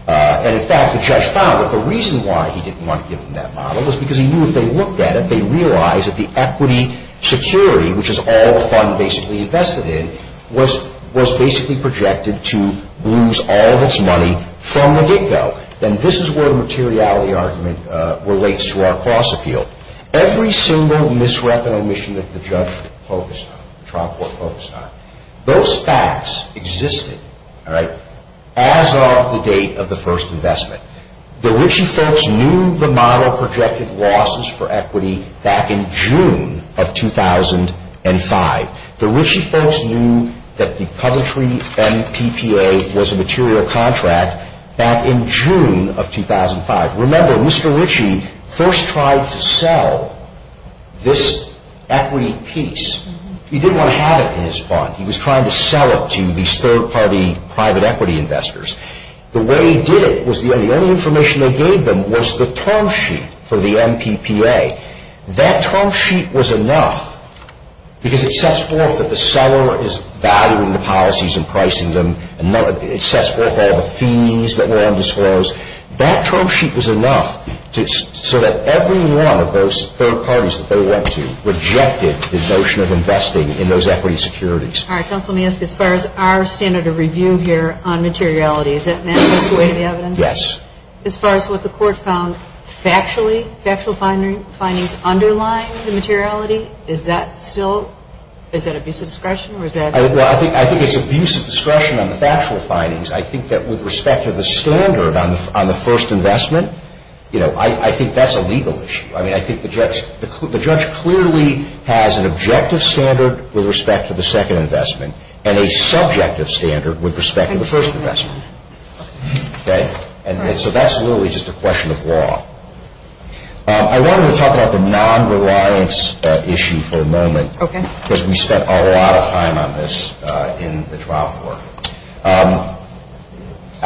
And in fact, the judge found that the reason why he didn't want to give them that model was because he knew if they looked at it, they'd realize that the equity security, which is all the fund basically invested in, was basically projected to lose all of its money from the get-go. And this is where the materiality argument relates to our cost appeal. Every single misrep and omission of the judge focused on, the trial court focused on, those facts existed as of the date of the first investment. The Ritchie folks knew the model projected losses for equity back in June of 2005. The Ritchie folks knew that the puppetry and PPA was a material contract back in June of 2005. Remember, Mr. Ritchie first tried to sell this equity piece. He didn't want to have it in his fund. He was trying to sell it to these third-party private equity investors. The way he did it was the only information they gave them was the term sheet for the MPPA. That term sheet was enough because it sets forth that the seller is valuing the policies and pricing them. It sets forth all the fees that were on disclose. That term sheet was enough so that every one of those third-parties that they wanted to rejected the notion of investing in those equity securities. All right. Counsel, let me ask you, as far as our standard of review here on materiality, does that match up to the evidence? Yes. As far as what the court found factually, factual findings underlying the materiality, is that still, is that abuse of discretion? Well, I think there's abuse of discretion on the factual findings. I think that with respect to the standard on the first investment, you know, I think that's a legal issue. I mean, I think the judge clearly has an objective standard with respect to the second investment and a subjective standard with respect to the first investment. Okay? And so that's really just a question of law. I wanted to talk about the non-reliance issue for a moment because we spent a lot of time on this in the trial court.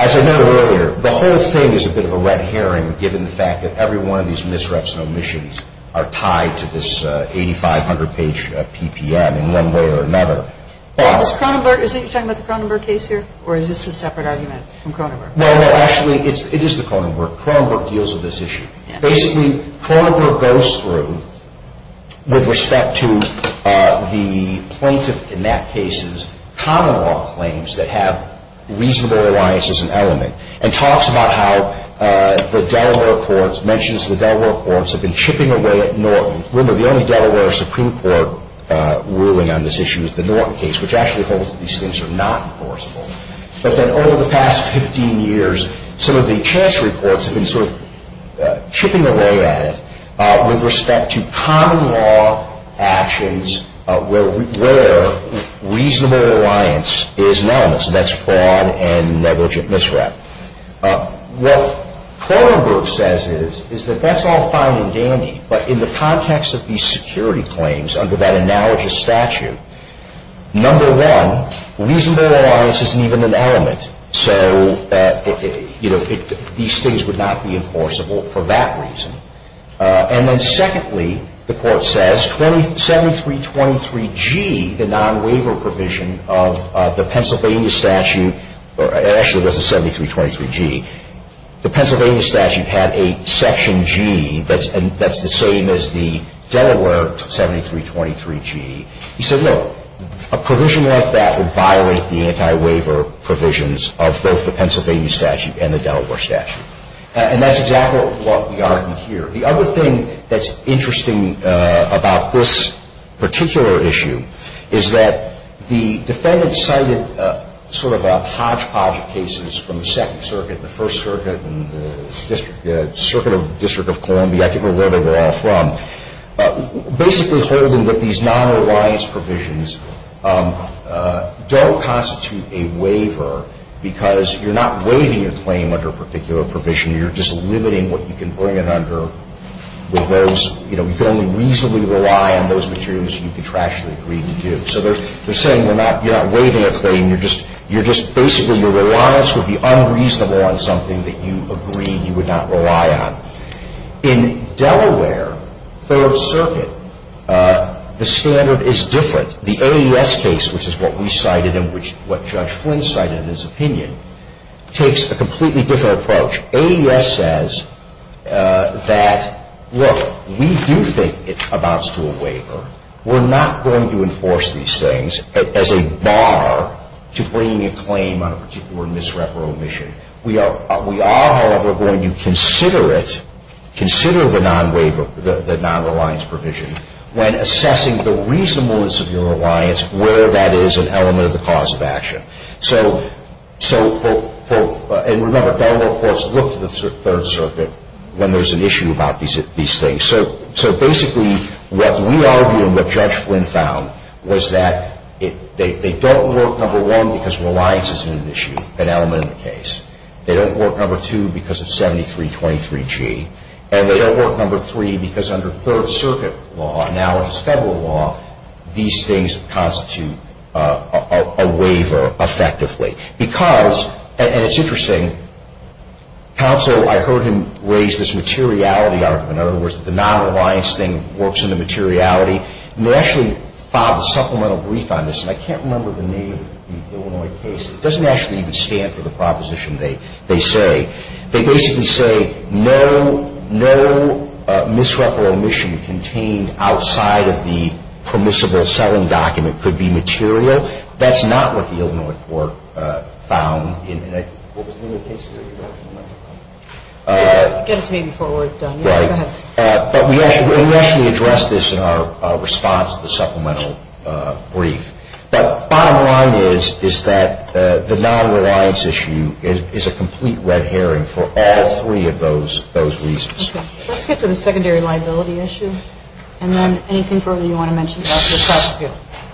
As I noted earlier, the whole thing is a bit of a red herring given the fact that every one of these misreps and omissions are tied to this 8,500-page PPN in one way or another. Is he talking about the Kronenberg case here, or is this a separate argument from Kronenberg? No, no, actually, it is the Kronenberg. Kronenberg deals with this issue. Basically, Kronenberg goes through with respect to the plaintiff in that case's common law claims that have reasonable reliance as an element and talks about how the Delaware courts, mentions the Delaware courts, have been chipping away at Norton. Remember, the only Delaware Supreme Court ruling on this issue is the Norton case, which actually holds that these things are not enforceable. But then over the past 15 years, some of the chancellery courts have been sort of chipping away at it with respect to common law actions where reasonable reliance is an element, and that's fraud and negligent misrep. What Kronenberg says is that that's all fine and dandy, but in the context of these security claims under that analogous statute, number one, reasonable reliance isn't even an element, so that these things would not be enforceable for that reason. And then secondly, the court says, 7323G, the non-waiver provision of the Pennsylvania statute, actually it was the 7323G, the Pennsylvania statute had a section G that's the same as the Delaware 7323G. He said, look, a provision like that would violate the anti-waiver provisions of both the Pennsylvania statute and the Delaware statute. And that's exactly what we argue here. The other thing that's interesting about this particular issue is that the defendant cited sort of a hodgepodge of cases from the Second Circuit, the First Circuit, the Circuit of the District of Columbia, I can't remember where they were all from, basically holding that these non-reliance provisions don't constitute a waiver because you're not waiving a claim under a particular provision, you're just limiting what you can bring it under with those, you know, you can only reasonably rely on those materials that you contractually agreed to do. So they're saying you're not waiving a claim, you're just, basically your reliance would be unreasonable on something that you agreed you would not rely on. In Delaware, Third Circuit, the standard is different. The AUS case, which is what we cited and what Judge Flynn cited in his opinion, takes a completely different approach. AUS says that, look, we do think it amounts to a waiver. We're not going to enforce these things as a bar to bringing a claim on a particular misreferral mission. We are, however, going to consider it, consider the non-reliance provision when assessing the reasonableness of your reliance, where that is an element of the cause of action. So, and remember, Delaware, of course, looks to the Third Circuit when there's an issue about these things. So basically, what we argue and what Judge Flynn found was that they don't work, number one, because reliance is an issue, an element of the case. They don't work, number two, because of 7323G. And they don't work, number three, because under Third Circuit law, now it's federal law, these things constitute a waiver, effectively. Because, and it's interesting, counsel, I heard him raise this materiality argument. In other words, the non-reliance thing works in the materiality. And they actually filed a supplemental brief on this. I can't remember the name of the Illinois case. It doesn't actually even stand for the proposition they say. They basically say no misreferral mission contained outside of the permissible selling document could be material. That's not what the Illinois court found in the case. I guess maybe four words don't make sense. Right. But we actually addressed this in our response to the supplemental brief. But bottom line is that the non-reliance issue is a complete red herring for all three of those reasons. Let's get to the secondary liability issue. And then anything further you want to mention?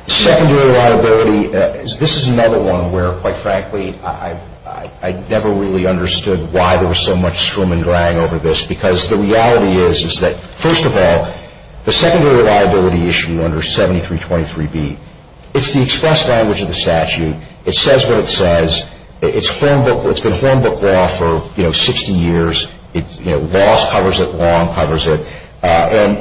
Secondary liability, this is another one where, quite frankly, I never really understood why there was so much scrim and drang over this. Because the reality is that, first of all, the secondary liability issue under 7323B, it's the express language of the statute. It says what it says. It's been a form book law for 60 years. Ross covers it. Long covers it. And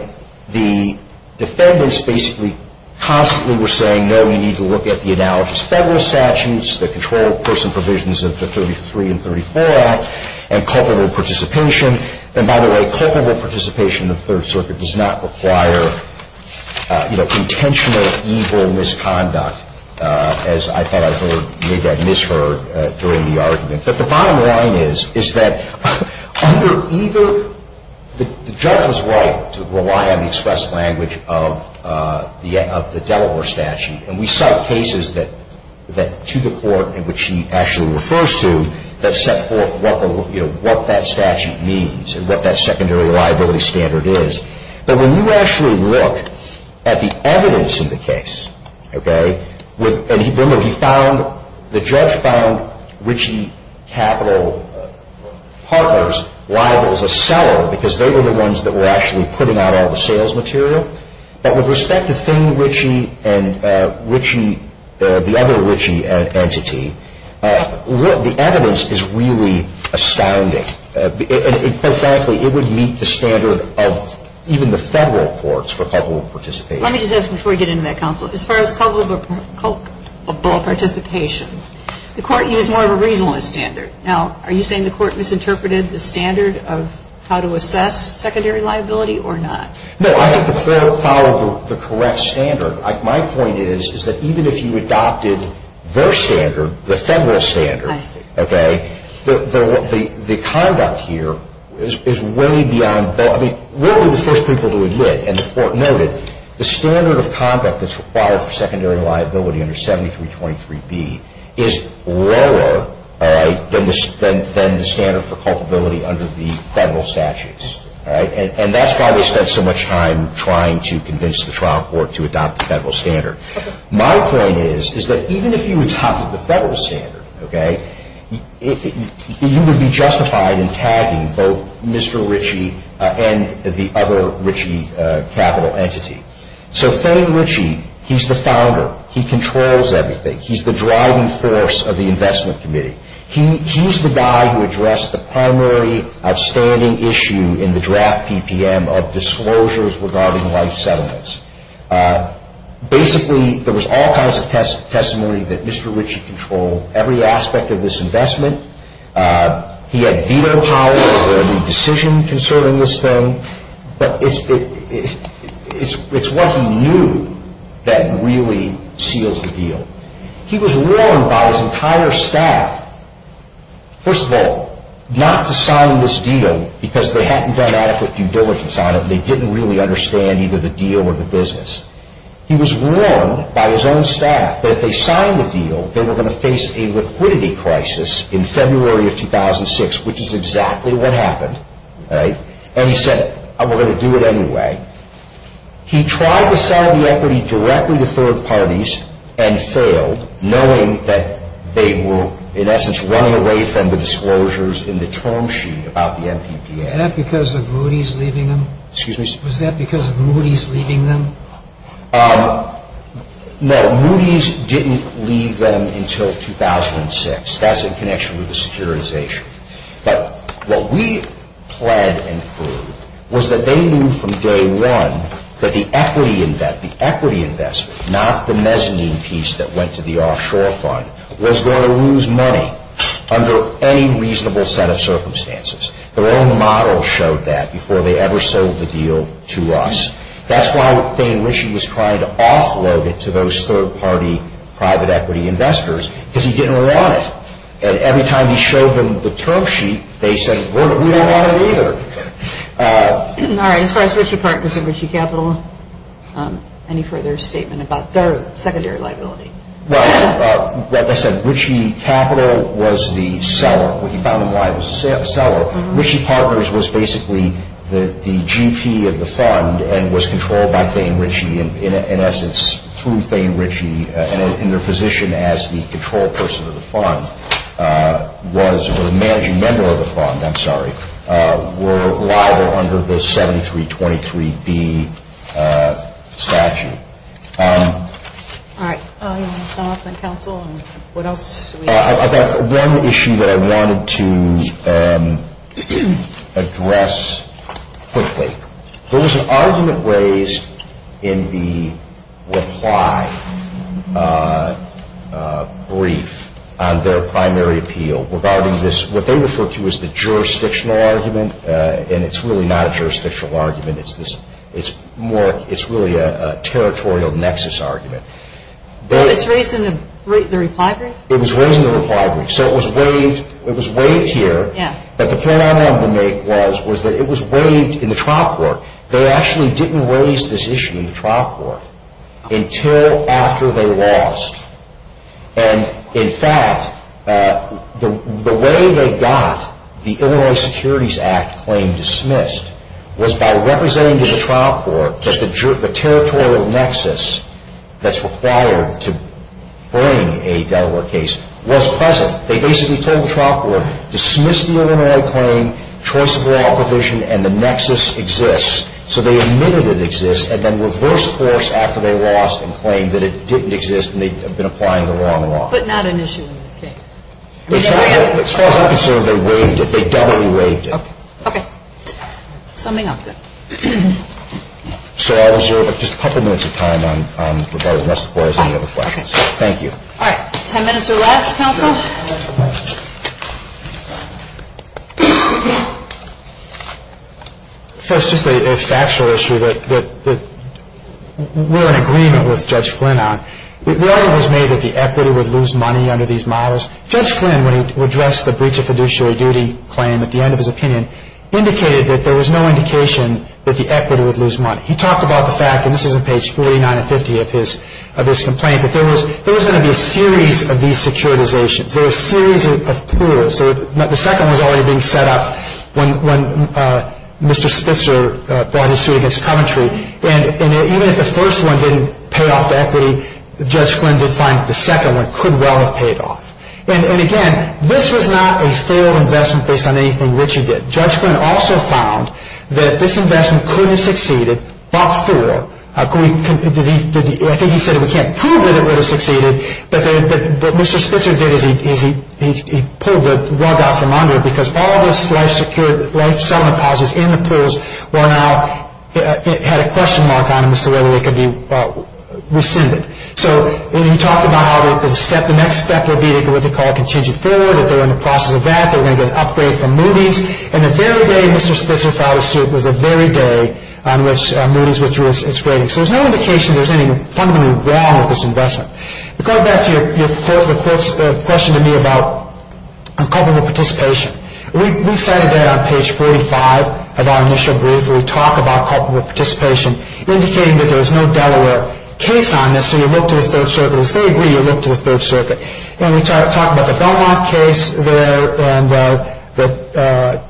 the defendants basically constantly were saying, no, we need to look at the analogous federal statutes, the control of person provisions of the 33 and 34 Act, and culpable participation. And by the way, culpable participation in the Third Circuit does not require intentional evil misconduct, as I thought I made that misheard during the argument. But the bottom line is that the judge is right to rely on the express language of the Delaware statute. And we cite cases to the court in which he actually refers to that set forth what that statute means and what that secondary liability standard is. But when you actually look at the evidence in the case, the judge found Ritchie Capital Partners liable as a seller because they were the ones that were actually putting out all the sales material. But with respect to Finn Ritchie and the other Ritchie entity, the evidence is really astounding. And quite frankly, it would meet the standard of even the federal courts for culpable participation. Let me just ask before we get into that conflict. As far as culpable participation, the court used more of a regionalist standard. Now, are you saying the court misinterpreted the standard of how to assess secondary liability or not? No, I think the court followed the correct standard. My point is that even if you adopted their standard, the federal standard, the conduct here is really beyond that. We were the first people to admit, and the court noted, the standard of conduct that's required for secondary liability under 7323B is lower than the standard for culpability under the federal statutes. And that's why we spent so much time trying to convince the trial court to adopt the federal standard. My point is that even if you adopted the federal standard, you would be justified in tagging both Mr. Ritchie and the other Ritchie capital entity. So Frank Ritchie, he's the founder. He controls everything. He's the driving force of the investment committee. He's the guy who addressed the primary outstanding issue in the draft PPM of disclosures regarding life settlements. Basically, there was all kinds of testimony that Mr. Ritchie controlled every aspect of this investment. He had veto power over any decision concerning this thing. But it's what he knew that really seals the deal. He was warned by his entire staff, first of all, not to sign this deal because they hadn't done adequate publicity on it, and they didn't really understand either the deal or the business. He was warned by his own staff that if they signed the deal, they were going to face a liquidity crisis in February of 2006, which is exactly what happened. And he said, we're going to do it anyway. He tried to sell the equity directly to third parties and failed, knowing that they were, in essence, running away from the disclosures in the term sheet about the MVP. Was that because of Moody's leaving them? No, Moody's didn't leave them until 2006. That's in connection with the securitization. What we planned and proved was that they knew from day one that the equity investment, not the mezzanine piece that went to the offshore fund, was going to lose money under any reasonable set of circumstances. Their own model showed that before they ever sold the deal to us. That's why Dane Ritchie was trying to offload it to those third-party private equity investors, because he didn't realize it. Every time he showed them the term sheet, they said, we don't want it either. All right, as far as Ritchie Partners and Ritchie Capital, any further statement about their secondary liability? Well, like I said, Ritchie Capital was the seller. Ritchie Partners was basically the GP of the fund and was controlled by Dane Ritchie, and in essence, through Dane Ritchie, in their position as the control person of the fund, was the managing member of the fund, I'm sorry, were allowed under the 7323B statute. All right, follow-up on counsel? I've got one issue that I wanted to address quickly. There was an argument raised in the reply brief on their primary appeal regarding this, what they refer to as the jurisdictional argument, and it's really not a jurisdictional argument. It's really a territorial nexus argument. It's raised in the reply brief? It was raised in the reply brief, so it was waived here, but the point I wanted to make was that it was waived in the trial court. They actually didn't raise this issue in the trial court until after they lost, and in fact, the way they got the Illinois Securities Act claim dismissed was by representing the trial court as the territorial nexus that's required to bring a Delaware case was present. They basically told the trial court, dismiss the Illinois claim, choice of law provision, and the nexus exists, so they admitted it exists and then reversed course after they lost and claimed that it didn't exist and they've been applying the law on the law. But not an issue in this case. It's not a concern they waived it. They definitely waived it. Okay. Summing up, then. So I'll give just a couple minutes of time on the rest of the board and the other questions. Thank you. All right. Ten minutes to wrap, counsel. First, just a factual issue that we're in agreement with Judge Flynn on. The argument was made that the equity would lose money under these models. Judge Flynn, when he addressed the breach of fiduciary duty claim, at the end of his opinion, indicated that there was no indication that the equity would lose money. He talked about the fact, and this is on page 49 or 50 of this complaint, that there was going to be a series of these securitizations, a series of pools. The second one was already being set up when Mr. Spitzer brought his suit against commentary. And even if the first one didn't pay off the equity, Judge Flynn did find that the second one could well have paid off. And again, this was not a failed investment based on anything which he did. Judge Flynn also found that this investment could have succeeded after all. I think he said, we can't prove that it would have succeeded, but what Mr. Spitzer did is he pulled the rug out from under it because all of the life-saving deposits in the pools had a question mark on them as to whether they could be rescinded. So when you talk about how the next step will be what we call a contingent failure, we know that they're in the process of that. They're going to get an upgrade from Moody's. And the very day Mr. Spitzer filed a suit was the very day on which Moody's was grading. So there's no indication there's anything fundamentally wrong with this investment. Going back to your first question to me about culpable participation, we cited that on page 45 of our initial brief where we talk about culpable participation, indicating that there is no Delaware case on this, so you look to the Third Circuit. If they agree, you look to the Third Circuit. And we talk about the Belmont case there and the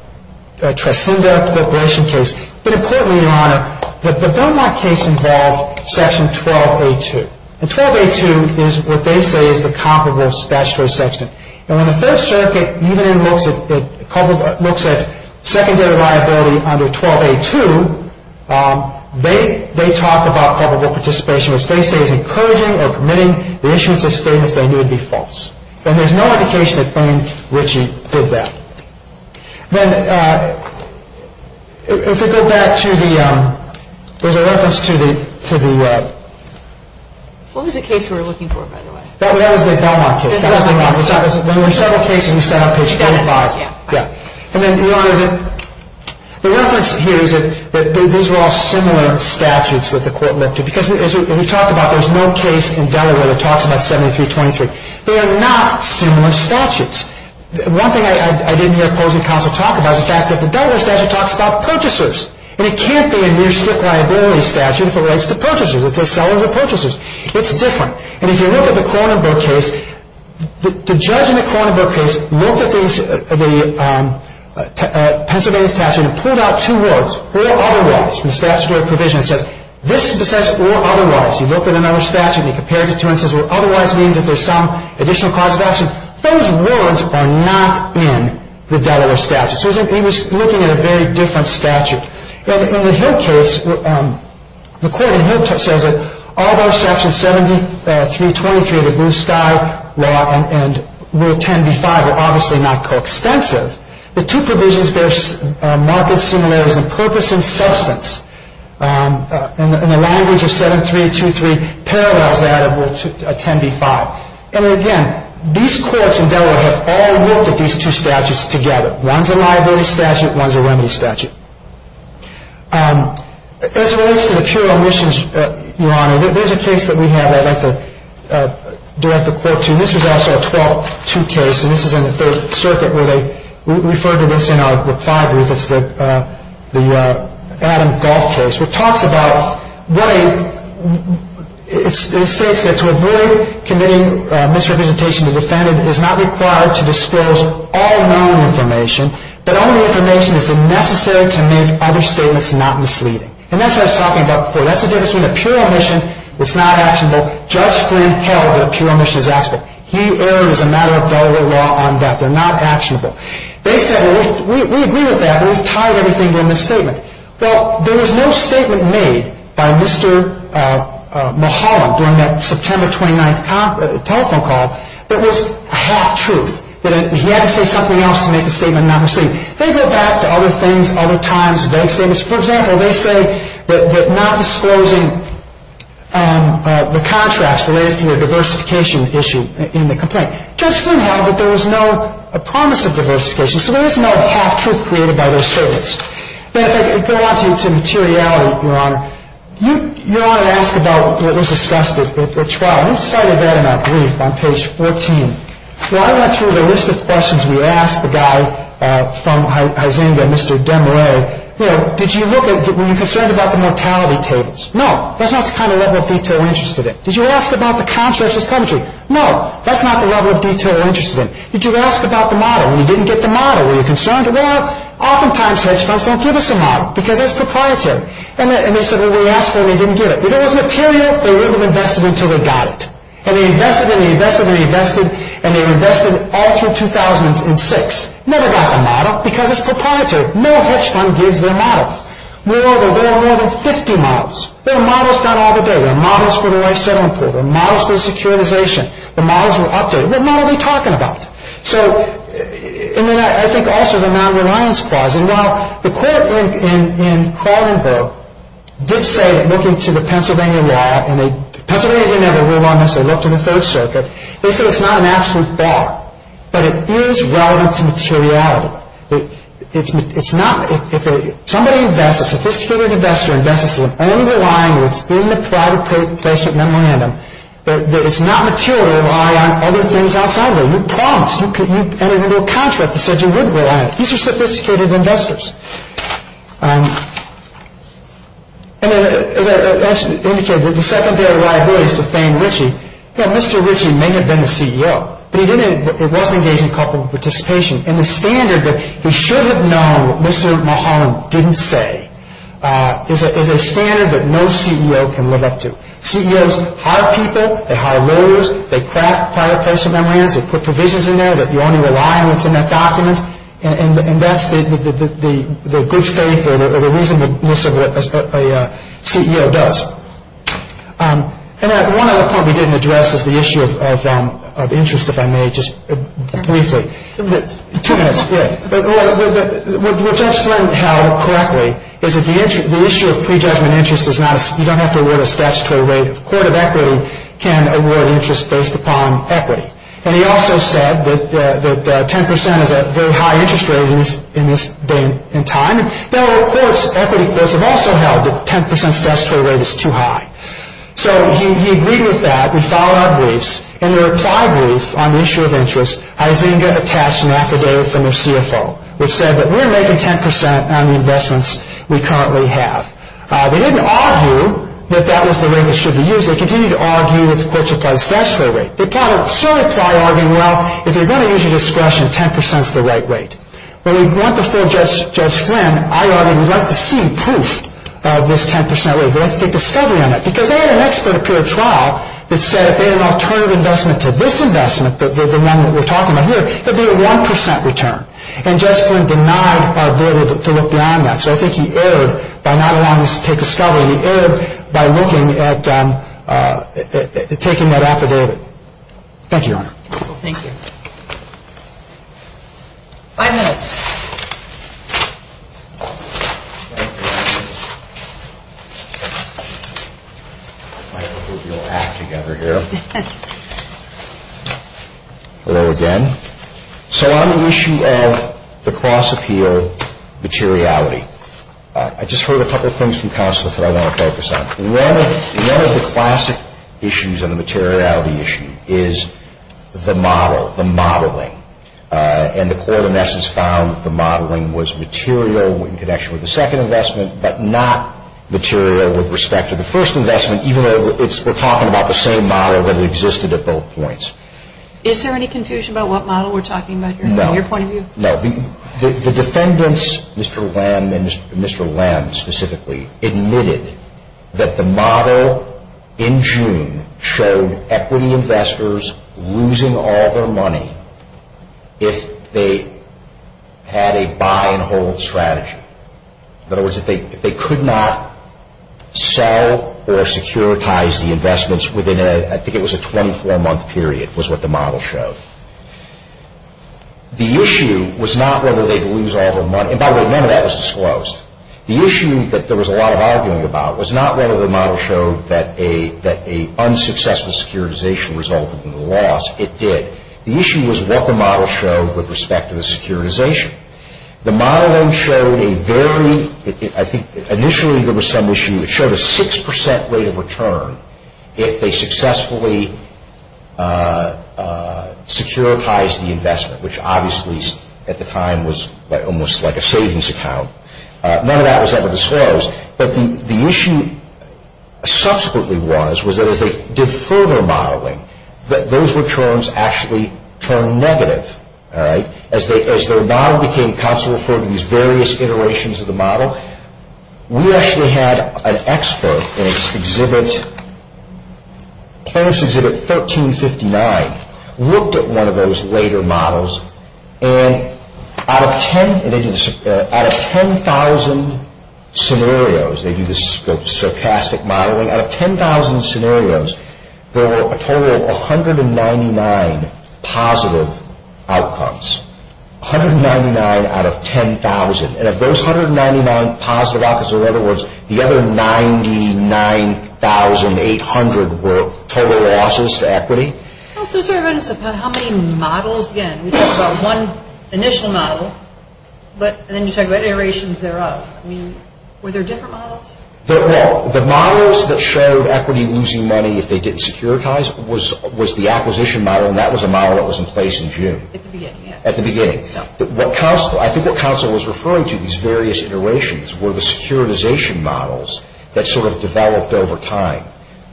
Trescinda corporation case. But importantly, Your Honor, the Belmont case involved Section 12A2. And 12A2 is what they say is the culpable statutory section. And when the Third Circuit even looks at secondary liability under 12A2, they talk about culpable participation as they say is encouraging or permitting the issuance of statements that may be false. And there's no indication of anything which did that. Then, if we go back to the... There's a reference to the... What was the case we were looking for, by the way? That was the Belmont case. That was the Belmont case. When we settled the case on page 45. Correct. And then, Your Honor, the reference here is that these are all similar statutes that the court looked at. Because, as we talked about, there's no case in Delaware that talks about 7322. They're not similar statutes. One thing I didn't hear the closing counsel talk about is the fact that the Delaware statute talks about purchasers. And it can't be a new strict liability statute for rights to purchases. It's just selling the purchases. It's different. And if you look at the Cronenberg case, the judge in the Cronenberg case looked at the Pennsylvania statute and pulled out two words. There are other words. The statute of provisions says, this is the statute or otherwise. You look at another statute, you compare the two, and it says, or otherwise means that there's some additional cause of action. Those words are not in the Delaware statute. So we were looking at a very different statute. In the Hill case, the court in Hill says that all those sections 7323, the blue sky law, and rule 10b-5 were obviously not co-extensive. The two provisions there are markedly similar. The purpose and substance in the language of 7323 parallels that of rule 10b-5. And again, these courts in Delaware have all looked at these two statutes together. One's a liability statute. One's a liability statute. As it relates to the pure omissions, Your Honor, there's a case that we have that I'd like to direct the court to. This is also a 12-2 case. And this is in the Third Circuit where they refer to this in our report. I believe it's the Adam Galt case, which talks about why it states that to avoid committing misrepresentation to the defendant it is not required to disclose all known information, but only information that is necessary to make other statements not misleading. And that's what I was talking about before. That's the difference between a pure omission that's not actionable, just the terrible pure omissions aspect. He erred as a matter of Delaware law on that. They're not actionable. They said, well, we agree with that. We've tried everything in this statement. Well, there was no statement made by Mr. Mahala during that September 29th telephone call that was half-truth, that he had to say something else to make the statement not misleading. They go back to other things, other times. They say this. For example, they say that not disclosing the contrast related to your diversification issue in the complaint. Just so you know, there was no promise of diversification, so there is no half-truth created by those statements. But if they're asking to materiality, Your Honor, Your Honor asked about what was discussed at trial. I'm going to cite a bit of that brief on page 14. So I went through the list of questions we asked the guy from Hyzinga, Mr. Demerais. Did you look at, were you concerned about the mortality tables? No. That's not the kind of level of detail I'm interested in. Did you ask about the contrast assumption? No. That's not the level of detail I'm interested in. Did you ask about the model? And you didn't get the model. Were you concerned about it? Oftentimes, hedge funds don't give us a model because it's proprietary. And they said, well, they asked and they didn't get it. If it was material, they wouldn't have invested until they got it. And they invested, and they invested, and they invested, and they invested all through 2006. Never got the model because it's proprietary. More hedge funds give their models. More of them. There are more than 50 models. There are models not all the day. There are models for the next seven quarters. There are models for the securitization. The models were updated. What model are we talking about? And then I think also the non-reliance clause. And while the court in Carlenburg did say that looking to the Pennsylvania law, and the Pennsylvanians were the ones that looked to the First Circuit. They said it's not an absolute fact. But it is relevant to materiality. It's not if somebody invests, a sophisticated investor in Memphis will only rely on what's in the private First Circuit memorandum. It's not material to rely on other things outside of it. You promised. And there was no contract that said you wouldn't rely on it. These are sophisticated investors. As I actually indicated, the secondary liability is for Frank Ritchie. Yeah, Mr. Ritchie may have been the CEO. But he wasn't engaged in a couple of participations. And the standard that he should have known Mr. Mulholland didn't say is that there's a standard that no CEO can live up to. CEOs hire people. They hire lawyers. They craft private First Circuit memorandums. They put provisions in there that you only rely on what's in their documents. And that's the good faith or the reason that a CEO does. And one other point we didn't address is the issue of interest, if I may, just briefly. Two minutes, yeah. What Jeff's point held correctly is that the issue of pre-judgment interest is you don't have to award a statutory rate. The Court of Equity can award interest based upon equity. And he also said that 10% is a very high interest rate in this day and time. Federal courts, equity courts have also held that 10% statutory rate is too high. So he agreed with that. We filed our briefs. And the reply brief on the issue of interest, I didn't get a cash map today from the CFO, which said that we're making 10% on the investments we currently have. They didn't argue that that was the rate that should be used. They continued to argue with, quote, a high statutory rate. The court should have probably argued, well, if you're going to use discretion, 10% is the right rate. But we went before Judge Flynn. I argued, well, I'm seeing proof of this 10% rate. Let's get discovery on it. Because they had an expert peer trial that said if they had an alternative investment to this investment, the one that we're talking about here, it would be a 1% return. And Judge Flynn did not argue to look beyond that. So I think he erred by not allowing us to take discovery. He erred by looking at taking that after David. Thank you, Your Honor. Thank you. Five minutes. Hello again. So on the issue of the cross-appeal materiality, I just heard a couple of things from counsel that I want to focus on. One of the classic issues on the materiality issue is the model, the modeling. And the court, in essence, found the modeling was material in connection with the second investment, but not material with respect to the first investment, even though we're talking about the same model that existed at both points. Is there any confusion about what model we're talking about here? No. The defendants, Mr. Lem and Mr. Lem specifically, admitted that the model in June showed equity investors losing all their money if they had a buy-and-hold strategy. In other words, if they could not sell or securitize the investments within a, I think it was a 24-month period, was what the model showed. The issue was not whether they could lose all their money. In fact, none of that was disclosed. The issue that there was a lot of arguing about was not whether the model showed that an unsuccessful securitization resulted in a loss. It did. The issue was what the model showed with respect to the securitization. The model then showed a very, I think initially there was some issue, it showed a 6% rate of return if they successfully securitized the investment, which obviously at the time was almost like a savings account. None of that was ever disclosed. But the issue subsequently was that if they deferred their modeling, that those returns actually turned negative. As their model became consul for these various iterations of the model, we actually had an expert in its exhibit, closed exhibit 1359, looked at one of those later models, and out of 10,000 scenarios, they do this stochastic modeling, out of 10,000 scenarios, there were a total of 199 positive outcomes. 199 out of 10,000. And of those 199 positive outcomes, in other words, the other 99,800 were total losses to equity. How many models, again, we just saw one initial model, but then you say what iterations thereof. Were there different models? There were. The models that showed equity losing money if they didn't securitize was the acquisition model, and that was a model that was in place in June. At the beginning, yes. At the beginning. I think what counsel was referring to, these various iterations, were the securitization models that sort of developed over time.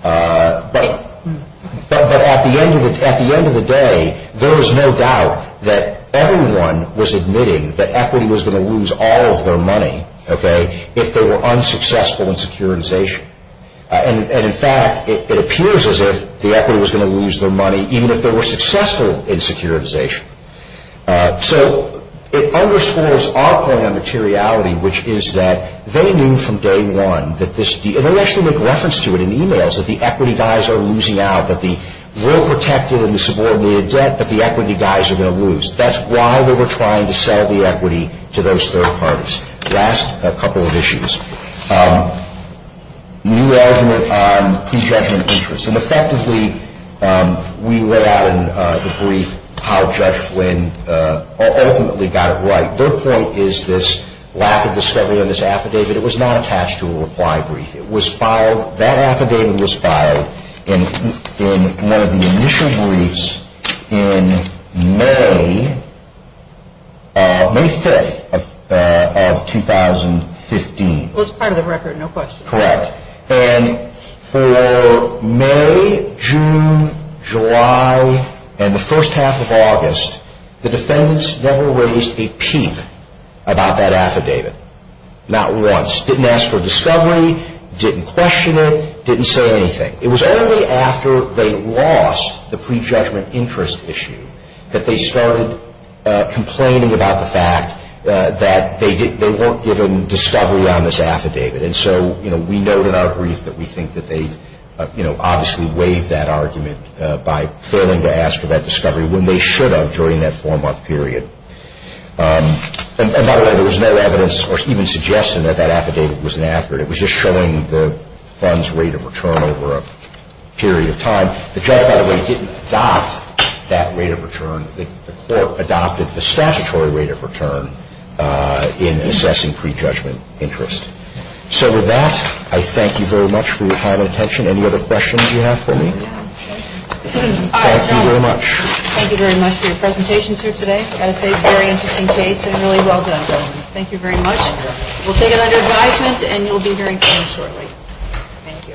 But at the end of the day, there was no doubt that everyone was admitting that equity was going to lose all of their money if they were unsuccessful in securitization. And, in fact, it appears as if the equity was going to lose their money even if they were successful in securitization. So it underscores our point on materiality, which is that they knew from day one that this, and I'll actually make reference to it in the emails, that the equity guys are losing out, that we'll protect it in the subordinated debt, but the equity guys are going to lose. That's why they were trying to sell the equity to those third parties. Last couple of issues. New element on conjecture and interest. And, effectively, we lay out in the brief how Judge Flynn ultimately got it right. Her point is this lack of discovery in this affidavit. It was not attached to a reply brief. That affidavit was filed in one of the initial briefs in May 5th of 2015. It was part of the record, no question. Correct. And for May, June, July, and the first half of August, the defendants never raised a peep about that affidavit. Not once. Didn't ask for discovery, didn't question it, didn't say anything. It was only after they lost the pre-judgment interest issue that they started complaining about the fact that they weren't given discovery on this affidavit. And so we note in our brief that we think that they obviously waived that argument by failing to ask for that discovery when they should have during that four-month period. And, by the way, there was no evidence or even suggestion that that affidavit was an affidavit. It was just showing the fund's rate of return over a period of time. The judge, by the way, didn't adopt that rate of return. The court adopted the statutory rate of return in assessing pre-judgment interest. So with that, I thank you very much for your kind attention. Any other questions you have for me? Thank you very much. Thank you very much for your presentations here today. I think very interesting case and really well done, gentlemen. Thank you very much. We'll take it under advisement and you'll be hearing from us shortly. Thank you.